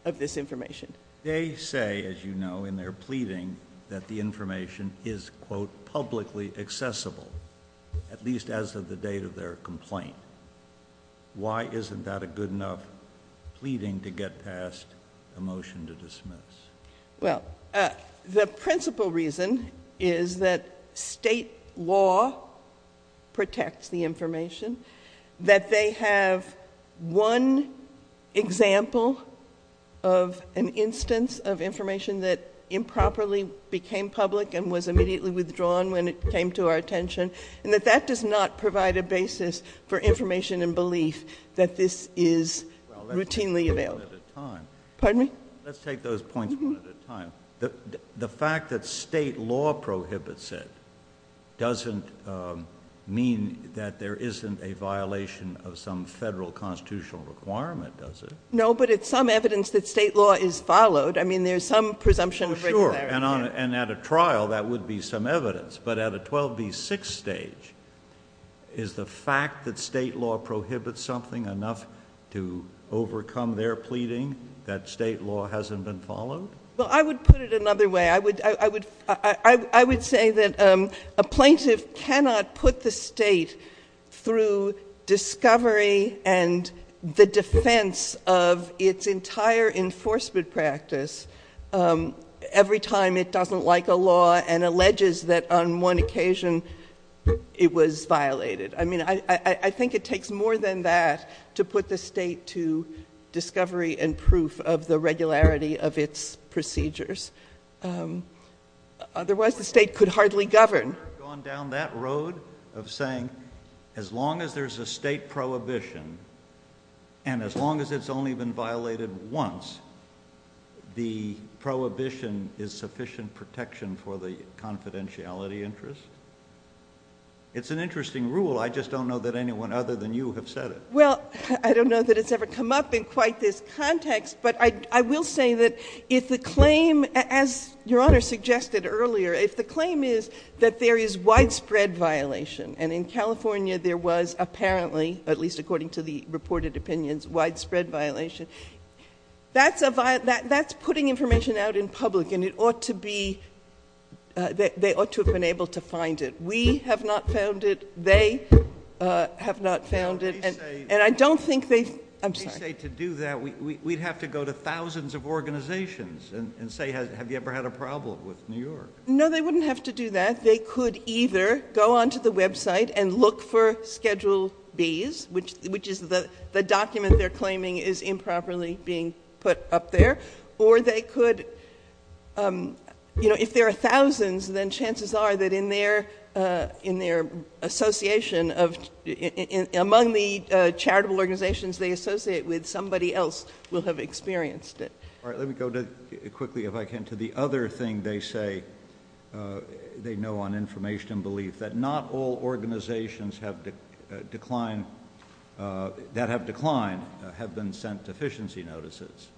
of this information. They say, as you know, in their pleading, that the information is, quote, publicly accessible, at least as of the date of their complaint. Why isn't that a good enough pleading to get past the motion to dismiss? Well, the principal reason is that state law protects the information, that they have one example of an instance of information that improperly became public and was immediately withdrawn when it came to our attention, and that that does not provide a basis for information and belief that this is routinely available. Pardon me? Let's take those points one at a time. The fact that state law prohibits it doesn't mean that there isn't a violation of some federal constitutional requirement, does it? No, but it's some evidence that state law is followed. I mean, there's some presumption. Sure. And at a trial, that would be some evidence. But at a 12 v. 6 stage, is the fact that state law prohibits something enough to overcome their pleading that state law hasn't been followed? Well, I would put it another way. I would say that a plaintiff cannot put the state through discovery and the defense of its entire enforcement practice every time it doesn't like a law and alleges that on one occasion it was violated. I mean, I think it takes more than that to put the state to discovery and proof of the regularity of its procedures. Otherwise, the state could hardly govern. Have you ever gone down that road of saying as long as there's a state prohibition and as long as it's only been violated once, the prohibition is sufficient protection for the confidentiality interest? It's an interesting rule. I just don't know that anyone other than you have said it. Well, I don't know that it's ever come up in quite this context. But I will say that if the claim, as Your Honor suggested earlier, if the claim is that there is widespread violation and in California there was apparently, at least according to the reported opinions, widespread violation, that's putting information out in public and it ought to be, they ought to have been able to find it. We have not found it. They have not found it. And I don't think they, I'm sorry. We'd have to go to thousands of organizations and say have you ever had a problem with New York? No, they wouldn't have to do that. They could either go onto the website and look for Schedule Bs, which is the document they're claiming is improperly being put up there, or they could, you know, if there are thousands, then chances are that in their association of, among the charitable organizations they associate with, somebody else will have experienced it. All right. Let me go quickly, if I can, to the other thing they say they know on information belief, that not all organizations that have declined have been sent deficiency notices.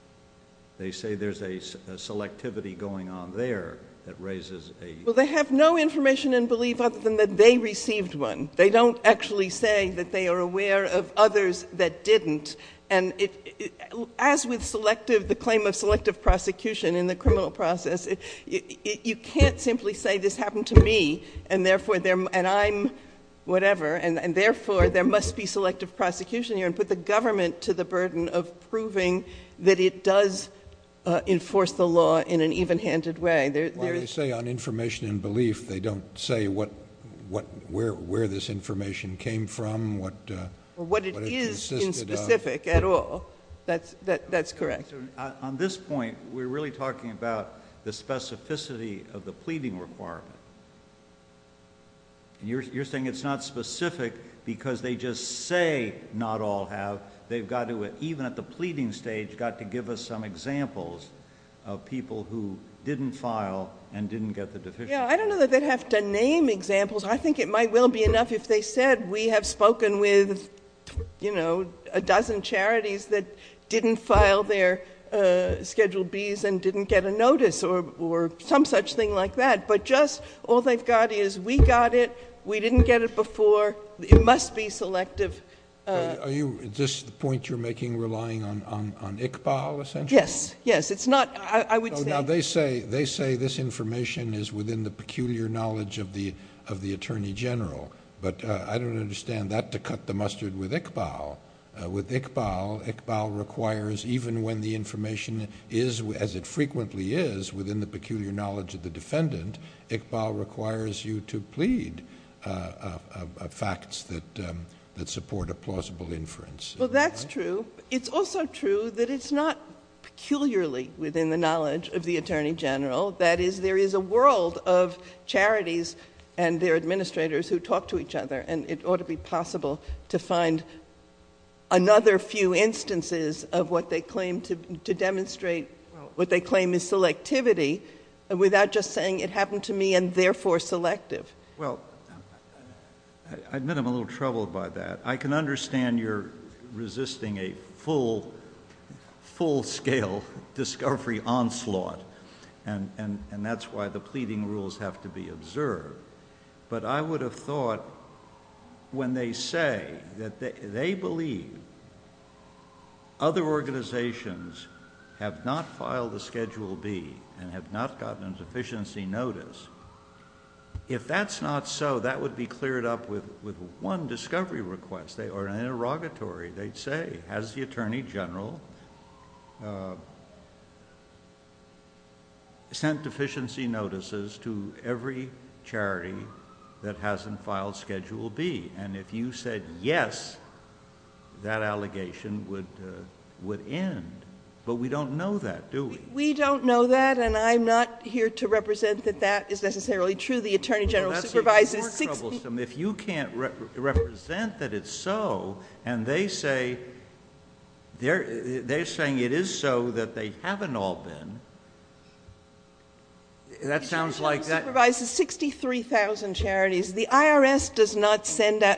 They say there's a selectivity going on there that raises a... Well, they have no information in belief other than that they received one. They don't actually say that they are aware of others that didn't. And as with selective, the claim of selective prosecution in the criminal process, you can't simply say this happened to me and therefore there, and I'm whatever, and therefore there must be selective prosecution here and put the government to the burden of proving that it does enforce the law in an even-handed way. Well, they say on information in belief, they don't say what, where this information came from, what... What it is in specific at all. That's correct. On this point, we're really talking about the specificity of the pleading requirement. You're saying it's not specific because they just say not all have. They've got to, even at the pleading stage, got to give us some examples of people who didn't file and didn't get the deficiency. Yeah, I don't know that they have to name examples. I think it might well be enough if they said we have spoken with, you know, a dozen charities that didn't file their Schedule Bs and didn't get a notice or some such thing like that. But just all they've got is we got it, we didn't get it before, it must be selective. Are you, is this the point you're making, relying on Iqbal, essentially? Yes, yes. It's not, I would say... Now, they say this information is within the peculiar knowledge of the Attorney General, but I don't understand that to cut the mustard with Iqbal. With Iqbal, Iqbal requires even when the information is as it frequently is within the peculiar knowledge of the defendant, Iqbal requires you to plead facts that support a plausible inference. Well, that's true. It's also true that it's not peculiarly within the knowledge of the Attorney General. That is, there is a world of charities and their administrators who talk to each other, and it ought to be possible to find another few instances of what they claim to demonstrate, what they claim is selectivity, without just saying it happened to me and therefore selective. Well, I admit I'm a little troubled by that. I can understand you're resisting a full-scale discovery onslaught, and that's why the pleading rules have to be observed. But I would have thought when they say that they believe other organizations have not filed a Schedule B and have not gotten a deficiency notice, if that's not so, that would be cleared up with one discovery request. Or an interrogatory. They'd say, has the Attorney General sent deficiency notices to every charity that hasn't filed Schedule B? And if you said yes, that allegation would end. But we don't know that, do we? We don't know that, and I'm not here to represent that that is necessarily true. Well, that's what troubles them. If you can't represent that it's so, and they're saying it is so, that they haven't all been, that sounds like that. The Attorney General supervises 63,000 charities. The IRS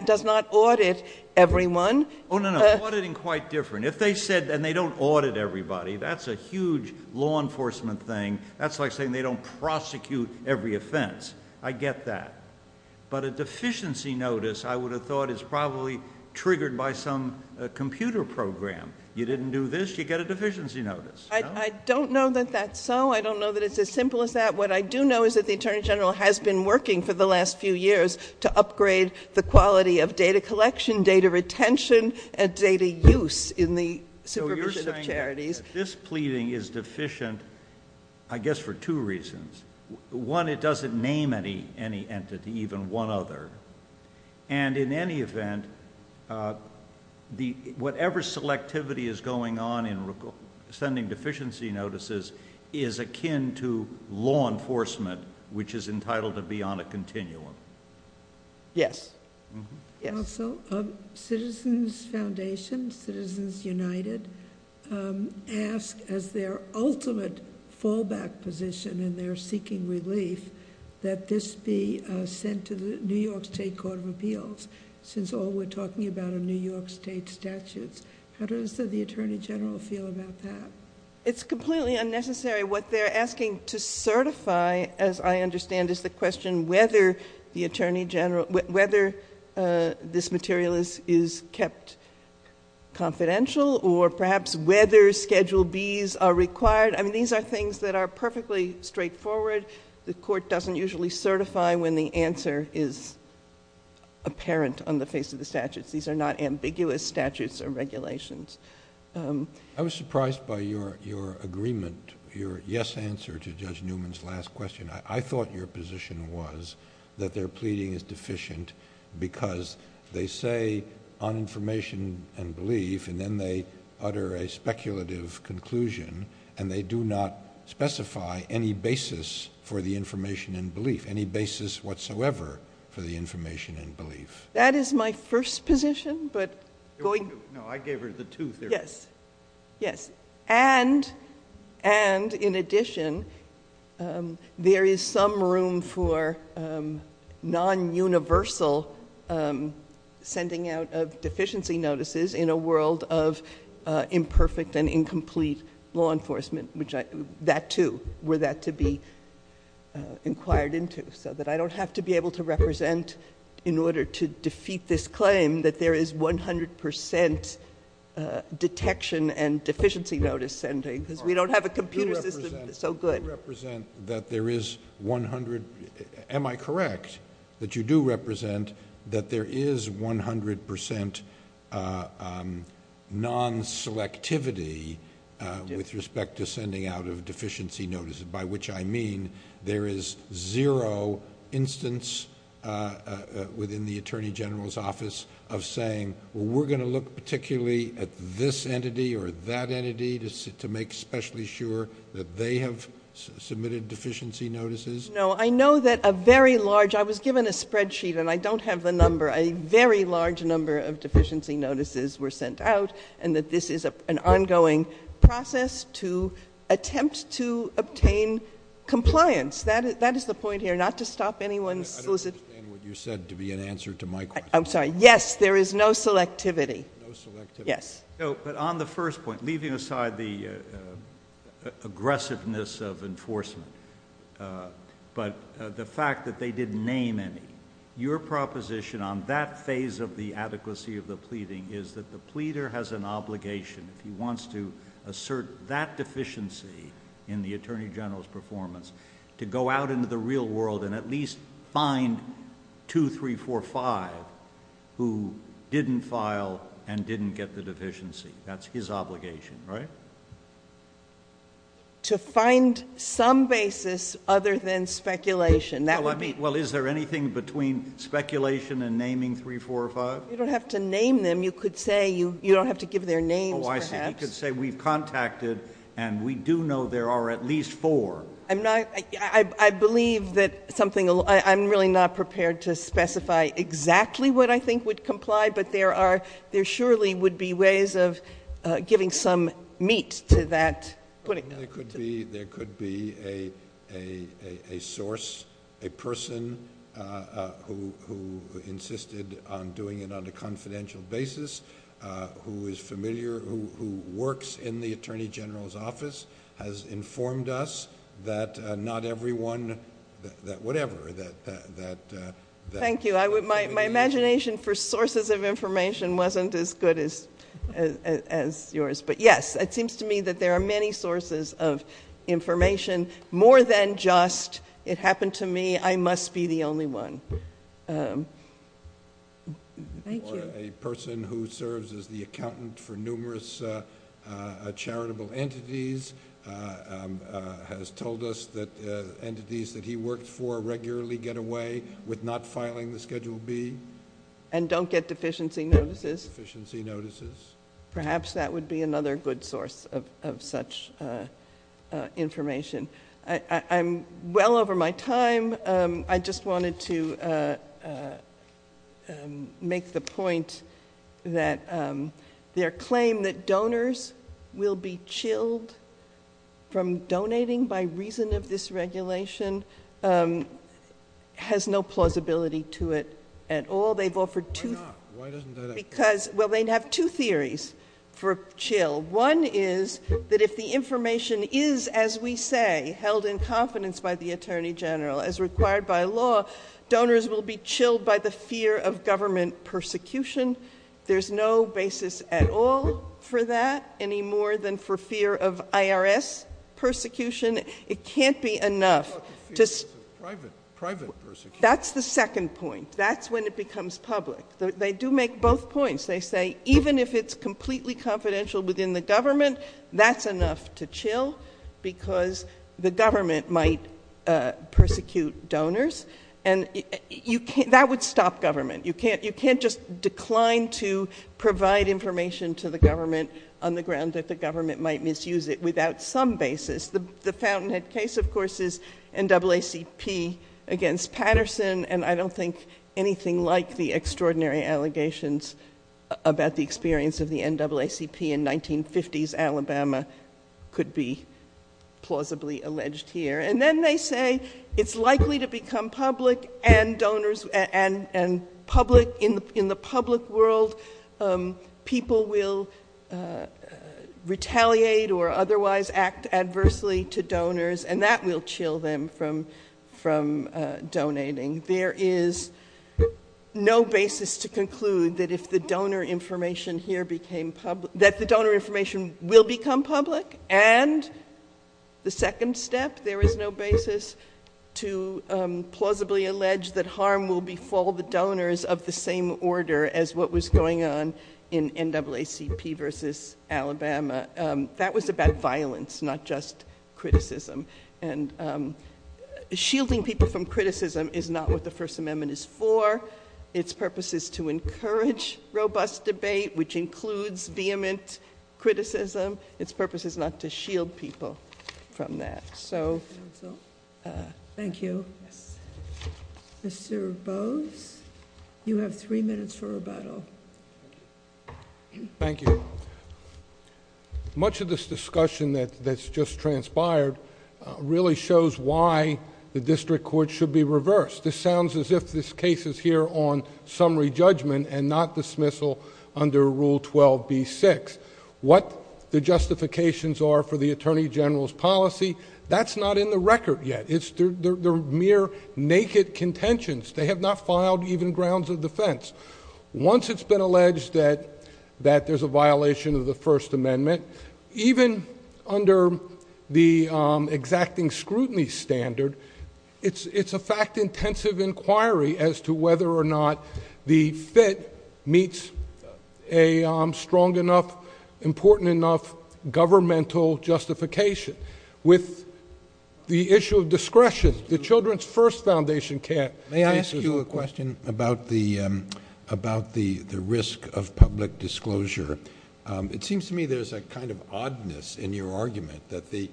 does not audit everyone. Oh, no, no. Auditing is quite different. If they said, and they don't audit everybody, that's a huge law enforcement thing. That's like saying they don't prosecute every offense. I get that. But a deficiency notice, I would have thought is probably triggered by some computer program. You didn't do this, you get a deficiency notice. I don't know that that's so. I don't know that it's as simple as that. What I do know is that the Attorney General has been working for the last few years to upgrade the quality of data collection, data retention, and data use in the supervision of charities. This pleading is deficient, I guess, for two reasons. One, it doesn't name any entity, even one other. And in any event, whatever selectivity is going on in sending deficiency notices is akin to law enforcement, which is entitled to be on a continuum. Yes. Citizens Foundation, Citizens United, ask, as their ultimate fallback position in their seeking relief, that this be sent to the New York State Court of Appeals, since all we're talking about are New York State statutes. How does the Attorney General feel about that? It's completely unnecessary. What they're asking to certify, as I understand, is the question whether this material is kept confidential or perhaps whether Schedule Bs are required. I mean, these are things that are perfectly straightforward. The Court doesn't usually certify when the answer is apparent on the face of the statute. These are not ambiguous statutes or regulations. I was surprised by your agreement, your yes answer to Judge Newman's last question. I thought your position was that their pleading is deficient because they say, on information and belief, and then they utter a speculative conclusion, and they do not specify any basis for the information and belief, any basis whatsoever for the information and belief. That is my first position. No, I gave her the two theories. Yes. And, in addition, there is some room for non-universal sending out of deficiency notices in a world of imperfect and incomplete law enforcement. That, too, were that to be inquired into, so that I don't have to be able to represent in order to defeat this claim that there is 100 percent detection and deficiency notice sending, because we don't have a computer system that's so good. You represent that there is 100 percent. Am I correct that you do represent that there is 100 percent non-selectivity with respect to sending out of deficiency notices, by which I mean there is zero instance within the Attorney General's office of saying, well, we're going to look particularly at this entity or that entity to make especially sure that they have submitted deficiency notices? No. I know that a very large – I was given a spreadsheet, and I don't have the number – a very large number of deficiency notices were sent out, and that this is an ongoing process to attempt to obtain compliance. That is the point here, not to stop anyone's – I don't understand what you said to be an answer to my question. I'm sorry. Yes, there is no selectivity. No selectivity. Yes. But on the first point, leaving aside the aggressiveness of enforcement, but the fact that they didn't name any, your proposition on that phase of the adequacy of the pleading is that the pleader has an obligation if he wants to assert that deficiency in the Attorney General's performance to go out into the real world and at least find two, three, four, five who didn't file and didn't get the deficiency. That's his obligation, right? To find some basis other than speculation. Well, is there anything between speculation and naming three, four, or five? You don't have to name them. You could say you don't have to give their names, perhaps. Oh, I see. You could say we contacted and we do know there are at least four. I believe that something – I'm really not prepared to specify exactly what I think would comply, but there surely would be ways of giving some meat to that. There could be a source, a person who insisted on doing it on a confidential basis, who is familiar, who works in the Attorney General's office, has informed us that not everyone, that whatever. Thank you. My imagination for sources of information wasn't as good as yours. But, yes, it seems to me that there are many sources of information. More than just, it happened to me, I must be the only one. Thank you. A person who serves as the accountant for numerous charitable entities has told us that entities that he works for regularly get away with not filing the Schedule B. And don't get deficiency notices. Deficiency notices. Perhaps that would be another good source of such information. I'm well over my time. I just wanted to make the point that their claim that donors will be chilled from donating by reason of this regulation has no plausibility to it at all. Why not? Why doesn't that happen? Because, well, they have two theories for chill. One is that if the information is, as we say, held in confidence by the Attorney General, as required by law, donors will be chilled by the fear of government persecution. There's no basis at all for that, any more than for fear of IRS persecution. It can't be enough. Private persecution. That's the second point. That's when it becomes public. They do make both points. They say even if it's completely confidential within the government, that's enough to chill because the government might persecute donors. And that would stop government. You can't just decline to provide information to the government on the grounds that the government might misuse it without some basis. The Fountainhead case, of course, is NAACP against Patterson. And I don't think anything like the extraordinary allegations about the experience of the NAACP in 1950s Alabama could be plausibly alleged here. And then they say it's likely to become public and in the public world people will retaliate or otherwise act adversely to donors. And that will chill them from donating. There is no basis to conclude that if the donor information here became public, that the donor information will become public. And the second step, there is no basis to plausibly allege that harm will befall the donors of the same order as what was going on in NAACP versus Alabama. That was about violence, not just criticism. And shielding people from criticism is not what the First Amendment is for. Its purpose is to encourage robust debate, which includes vehement criticism. Its purpose is not to shield people from that. So thank you. Thank you. Much of this discussion that's just transpired really shows why the district court should be reversed. This sounds as if this case is here on summary judgment and not dismissal under Rule 12b-6. What the justifications are for the Attorney General's policy, that's not in the record yet. They're mere naked contentions. They have not filed even grounds of defense. Once it's been alleged that there's a violation of the First Amendment, even under the exacting scrutiny standard, it's a fact-intensive inquiry as to whether or not the fit meets a strong enough, important enough governmental justification. With the issue of discretion, the Children's First Foundation can't answer that. I have a question about the risk of public disclosure. It seems to me there's a kind of oddness in your argument that the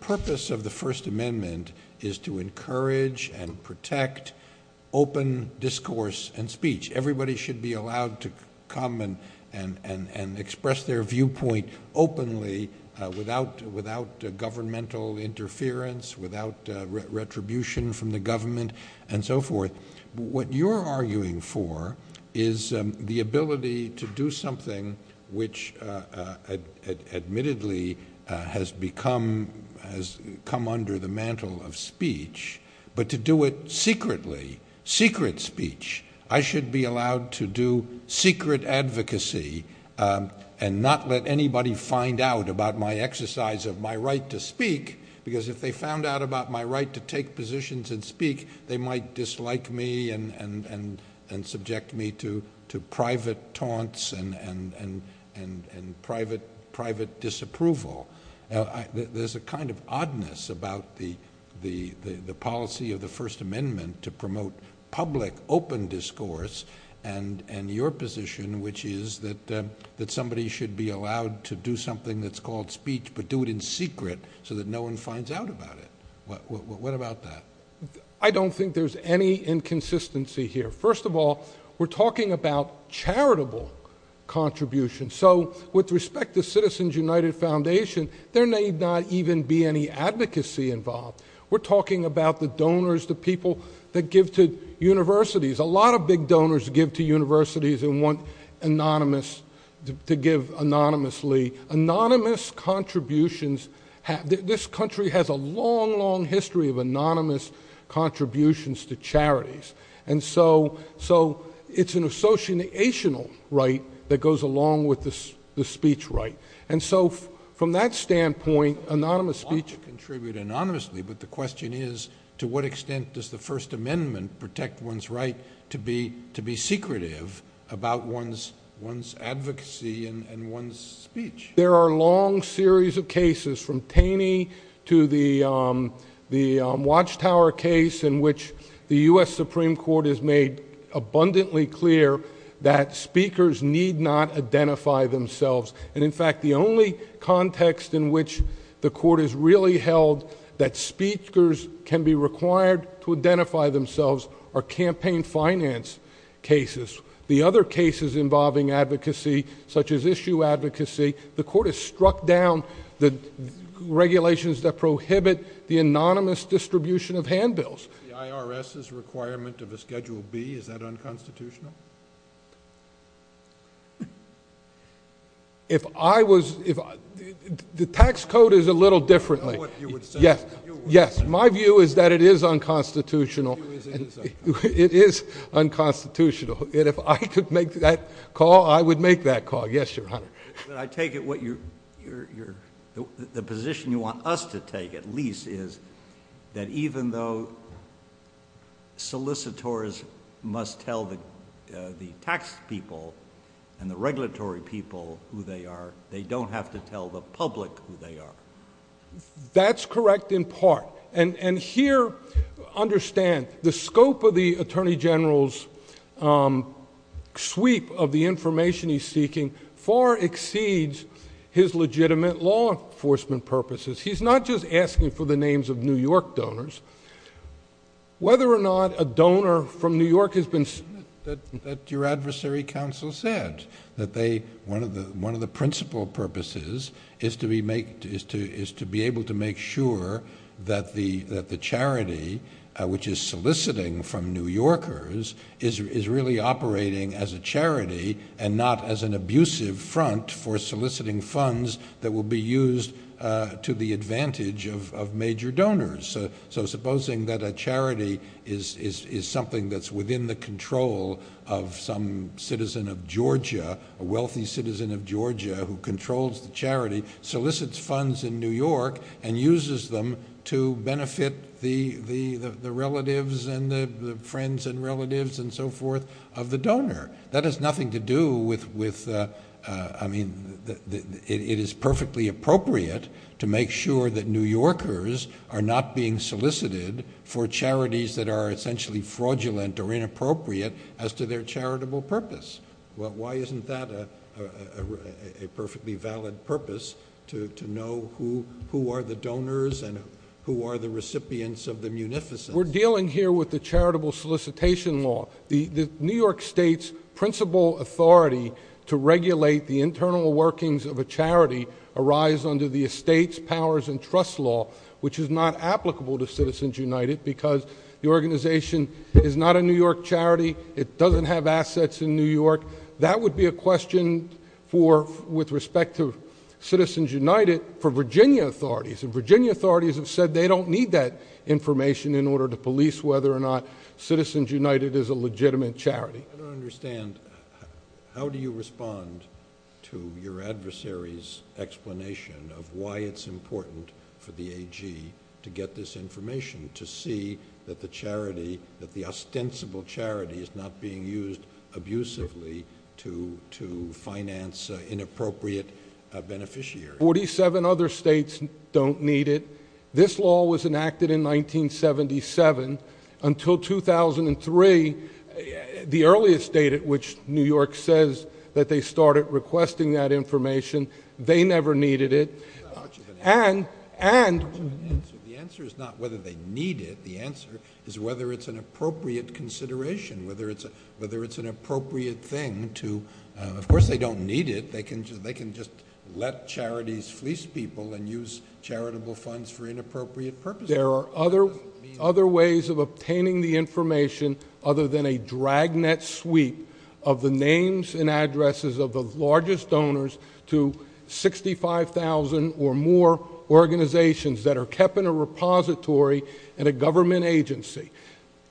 purpose of the First Amendment is to encourage and protect open discourse and speech. Everybody should be allowed to come and express their viewpoint openly without governmental interference, without retribution from the government, and so forth. What you're arguing for is the ability to do something which admittedly has come under the mantle of speech, but to do it secretly, secret speech. I should be allowed to do secret advocacy and not let anybody find out about my exercise of my right to speak because if they found out about my right to take positions and speak, they might dislike me and subject me to private taunts and private disapproval. There's a kind of oddness about the policy of the First Amendment to promote public open discourse and your position, which is that somebody should be allowed to do something that's called speech but do it in secret so that no one finds out about it. What about that? I don't think there's any inconsistency here. First of all, we're talking about charitable contributions. So with respect to Citizens United Foundation, there may not even be any advocacy involved. We're talking about the donors, the people that give to universities. A lot of big donors give to universities and want to give anonymously. Anonymous contributions, this country has a long, long history of anonymous contributions to charities. And so it's an associational right that goes along with the speech right. And so from that standpoint, anonymous speeches contribute anonymously. But the question is, to what extent does the First Amendment protect one's right to be secretive about one's advocacy and one's speech? There are a long series of cases, from Paney to the Watchtower case, in which the U.S. Supreme Court has made abundantly clear that speakers need not identify themselves. And, in fact, the only context in which the Court has really held that speakers can be required to identify themselves are campaign finance cases. The other cases involving advocacy, such as issue advocacy, the Court has struck down the regulations that prohibit the anonymous distribution of handbills. The IRS's requirement of a Schedule B, is that unconstitutional? The tax code is a little differently. Yes, my view is that it is unconstitutional. It is unconstitutional. And if I could make that call, I would make that call. Yes, Your Honor. I take it the position you want us to take, at least, is that even though solicitors must tell the tax people and the regulatory people who they are, they don't have to tell the public who they are. That's correct, in part. And here, understand, the scope of the Attorney General's sweep of the information he's seeking far exceeds his legitimate law enforcement purposes. He's not just asking for the names of New York donors. Whether or not a donor from New York has been solicited, that your adversary counsel said, that one of the principal purposes is to be able to make sure that the charity, which is soliciting from New Yorkers, is really operating as a charity and not as an abusive front for soliciting funds that will be used to the advantage of major donors. So supposing that a charity is something that's within the control of some citizen of Georgia, a wealthy citizen of Georgia, who controls the charity, solicits funds in New York and uses them to benefit the relatives and the friends and relatives and so forth of the donor. That has nothing to do with, I mean, it is perfectly appropriate to make sure that New Yorkers are not being solicited for charities that are essentially fraudulent or inappropriate as to their charitable purpose. Why isn't that a perfectly valid purpose, to know who are the donors and who are the recipients of the munificence? We're dealing here with the charitable solicitation law. The New York State's principal authority to regulate the internal workings of a charity arise under the Estates, Powers and Trusts law, which is not applicable to Citizens United because the organization is not a New York charity. It doesn't have assets in New York. That would be a question for, with respect to Citizens United, for Virginia authorities. And Virginia authorities have said they don't need that information in order to police whether or not Citizens United is a legitimate charity. I don't understand. How do you respond to your adversary's explanation of why it's important for the AG to get this information, to see that the ostensible charity is not being used abusively to finance inappropriate beneficiaries? Forty-seven other states don't need it. This law was enacted in 1977. Until 2003, the earliest date at which New York says that they started requesting that information, they never needed it. And the answer is not whether they need it. The answer is whether it's an appropriate consideration, whether it's an appropriate thing to, of course, they don't need it. They can just let charities fleece people and use charitable funds for inappropriate purposes. There are other ways of obtaining the information other than a dragnet suite of the names and addresses of the largest donors to 65,000 or more organizations that are kept in a repository in a government agency.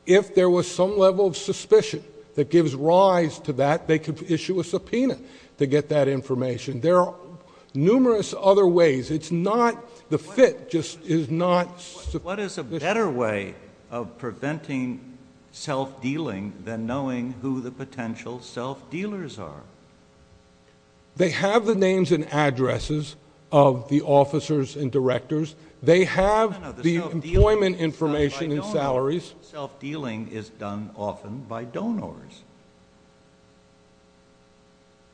If there was some level of suspicion that gives rise to that, they could issue a subpoena to get that information. There are numerous other ways. It's not the fit just is not sufficient. What is a better way of preventing self-dealing than knowing who the potential self-dealers are? They have the names and addresses of the officers and directors. They have the employment information and salaries. Self-dealing is done often by donors.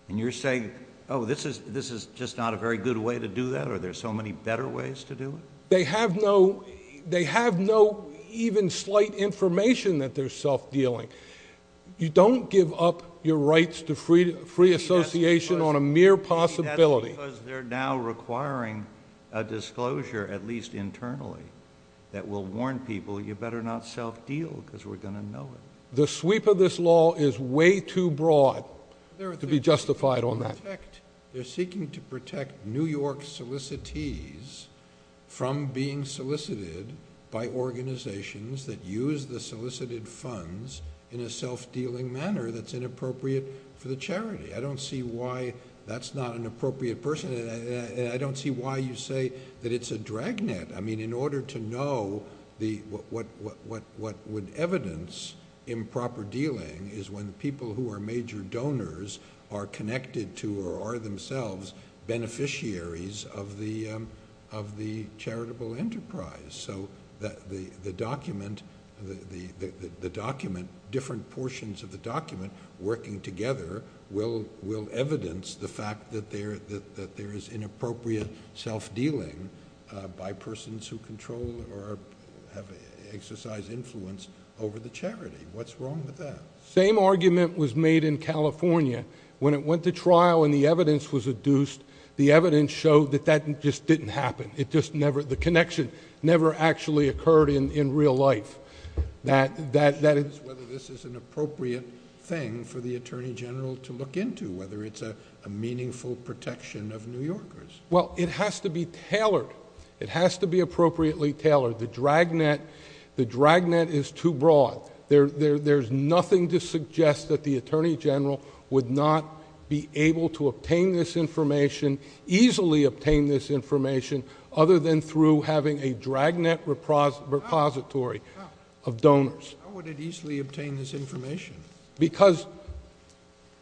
And you're saying, oh, this is just not a very good way to do that? Are there so many better ways to do it? They have no even slight information that they're self-dealing. You don't give up your rights to free association on a mere possibility. Because they're now requiring a disclosure, at least internally, that will warn people you better not self-deal because we're going to know it. The sweep of this law is way too broad to be justified on that. They're seeking to protect New York solicitees from being solicited by organizations that use the solicited funds in a self-dealing manner that's inappropriate for the charity. I don't see why that's not an appropriate person. And I don't see why you say that it's a dragnet. I mean, in order to know, what would evidence improper dealing is when people who are major donors are connected to or are themselves beneficiaries of the charitable enterprise. So the document, different portions of the document working together will evidence the fact that there is inappropriate self-dealing by persons who control or have exercised influence over the charity. What's wrong with that? Same argument was made in California. When it went to trial and the evidence was adduced, the evidence showed that that just didn't happen. The connection never actually occurred in real life. That is whether this is an appropriate thing for the Attorney General to look into, whether it's a meaningful protection of New Yorkers. Well, it has to be tailored. It has to be appropriately tailored. The dragnet is too broad. There's nothing to suggest that the Attorney General would not be able to obtain this information, easily obtain this information, other than through having a dragnet repository of donors. How would it easily obtain this information? Because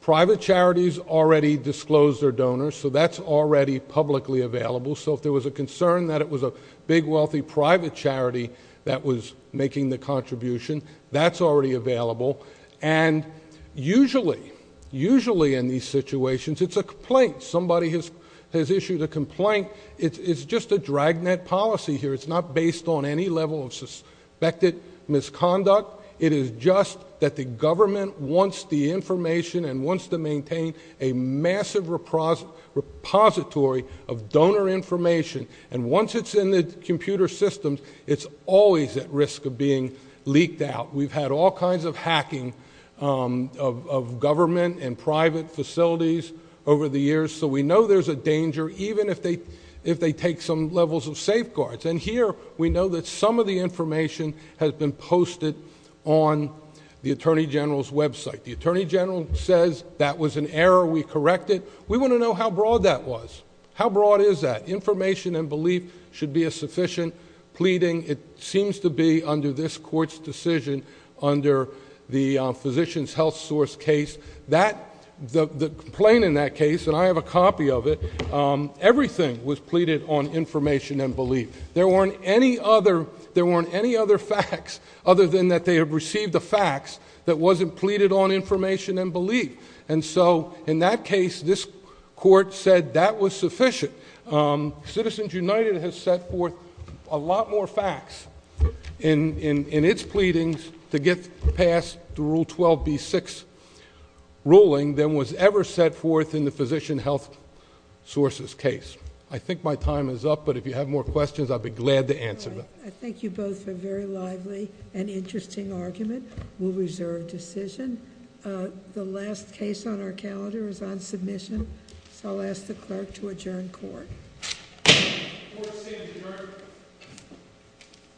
private charities already disclose their donors, so that's already publicly available. So if there was a concern that it was a big, wealthy private charity that was making the contribution, that's already available. And usually, usually in these situations, it's a complaint. Somebody has issued a complaint. It's just a dragnet policy here. It's not based on any level of suspected misconduct. It is just that the government wants the information and wants to maintain a massive repository of donor information. And once it's in the computer systems, it's always at risk of being leaked out. We've had all kinds of hacking of government and private facilities over the years. So we know there's a danger, even if they take some levels of safeguards. And here, we know that some of the information has been posted on the Attorney General's website. The Attorney General says that was an error. We correct it. We want to know how broad that was. How broad is that? Information and belief should be a sufficient pleading. It seems to be, under this Court's decision, under the Physician's Health Source case, that the complaint in that case, and I have a copy of it, everything was pleaded on information and belief. There weren't any other facts, other than that they had received the facts, that wasn't pleaded on information and belief. And so, in that case, this Court said that was sufficient. Citizens United has set forth a lot more facts in its pleadings to get past the Rule 12b-6 ruling than was ever set forth in the Physician Health Source's case. I think my time is up, but if you have more questions, I'd be glad to answer them. I think you both are very lively and interesting arguments. We'll reserve decision. The last case on our calendar is on submission. I'll ask the Clerk to adjourn Court. Court is adjourned.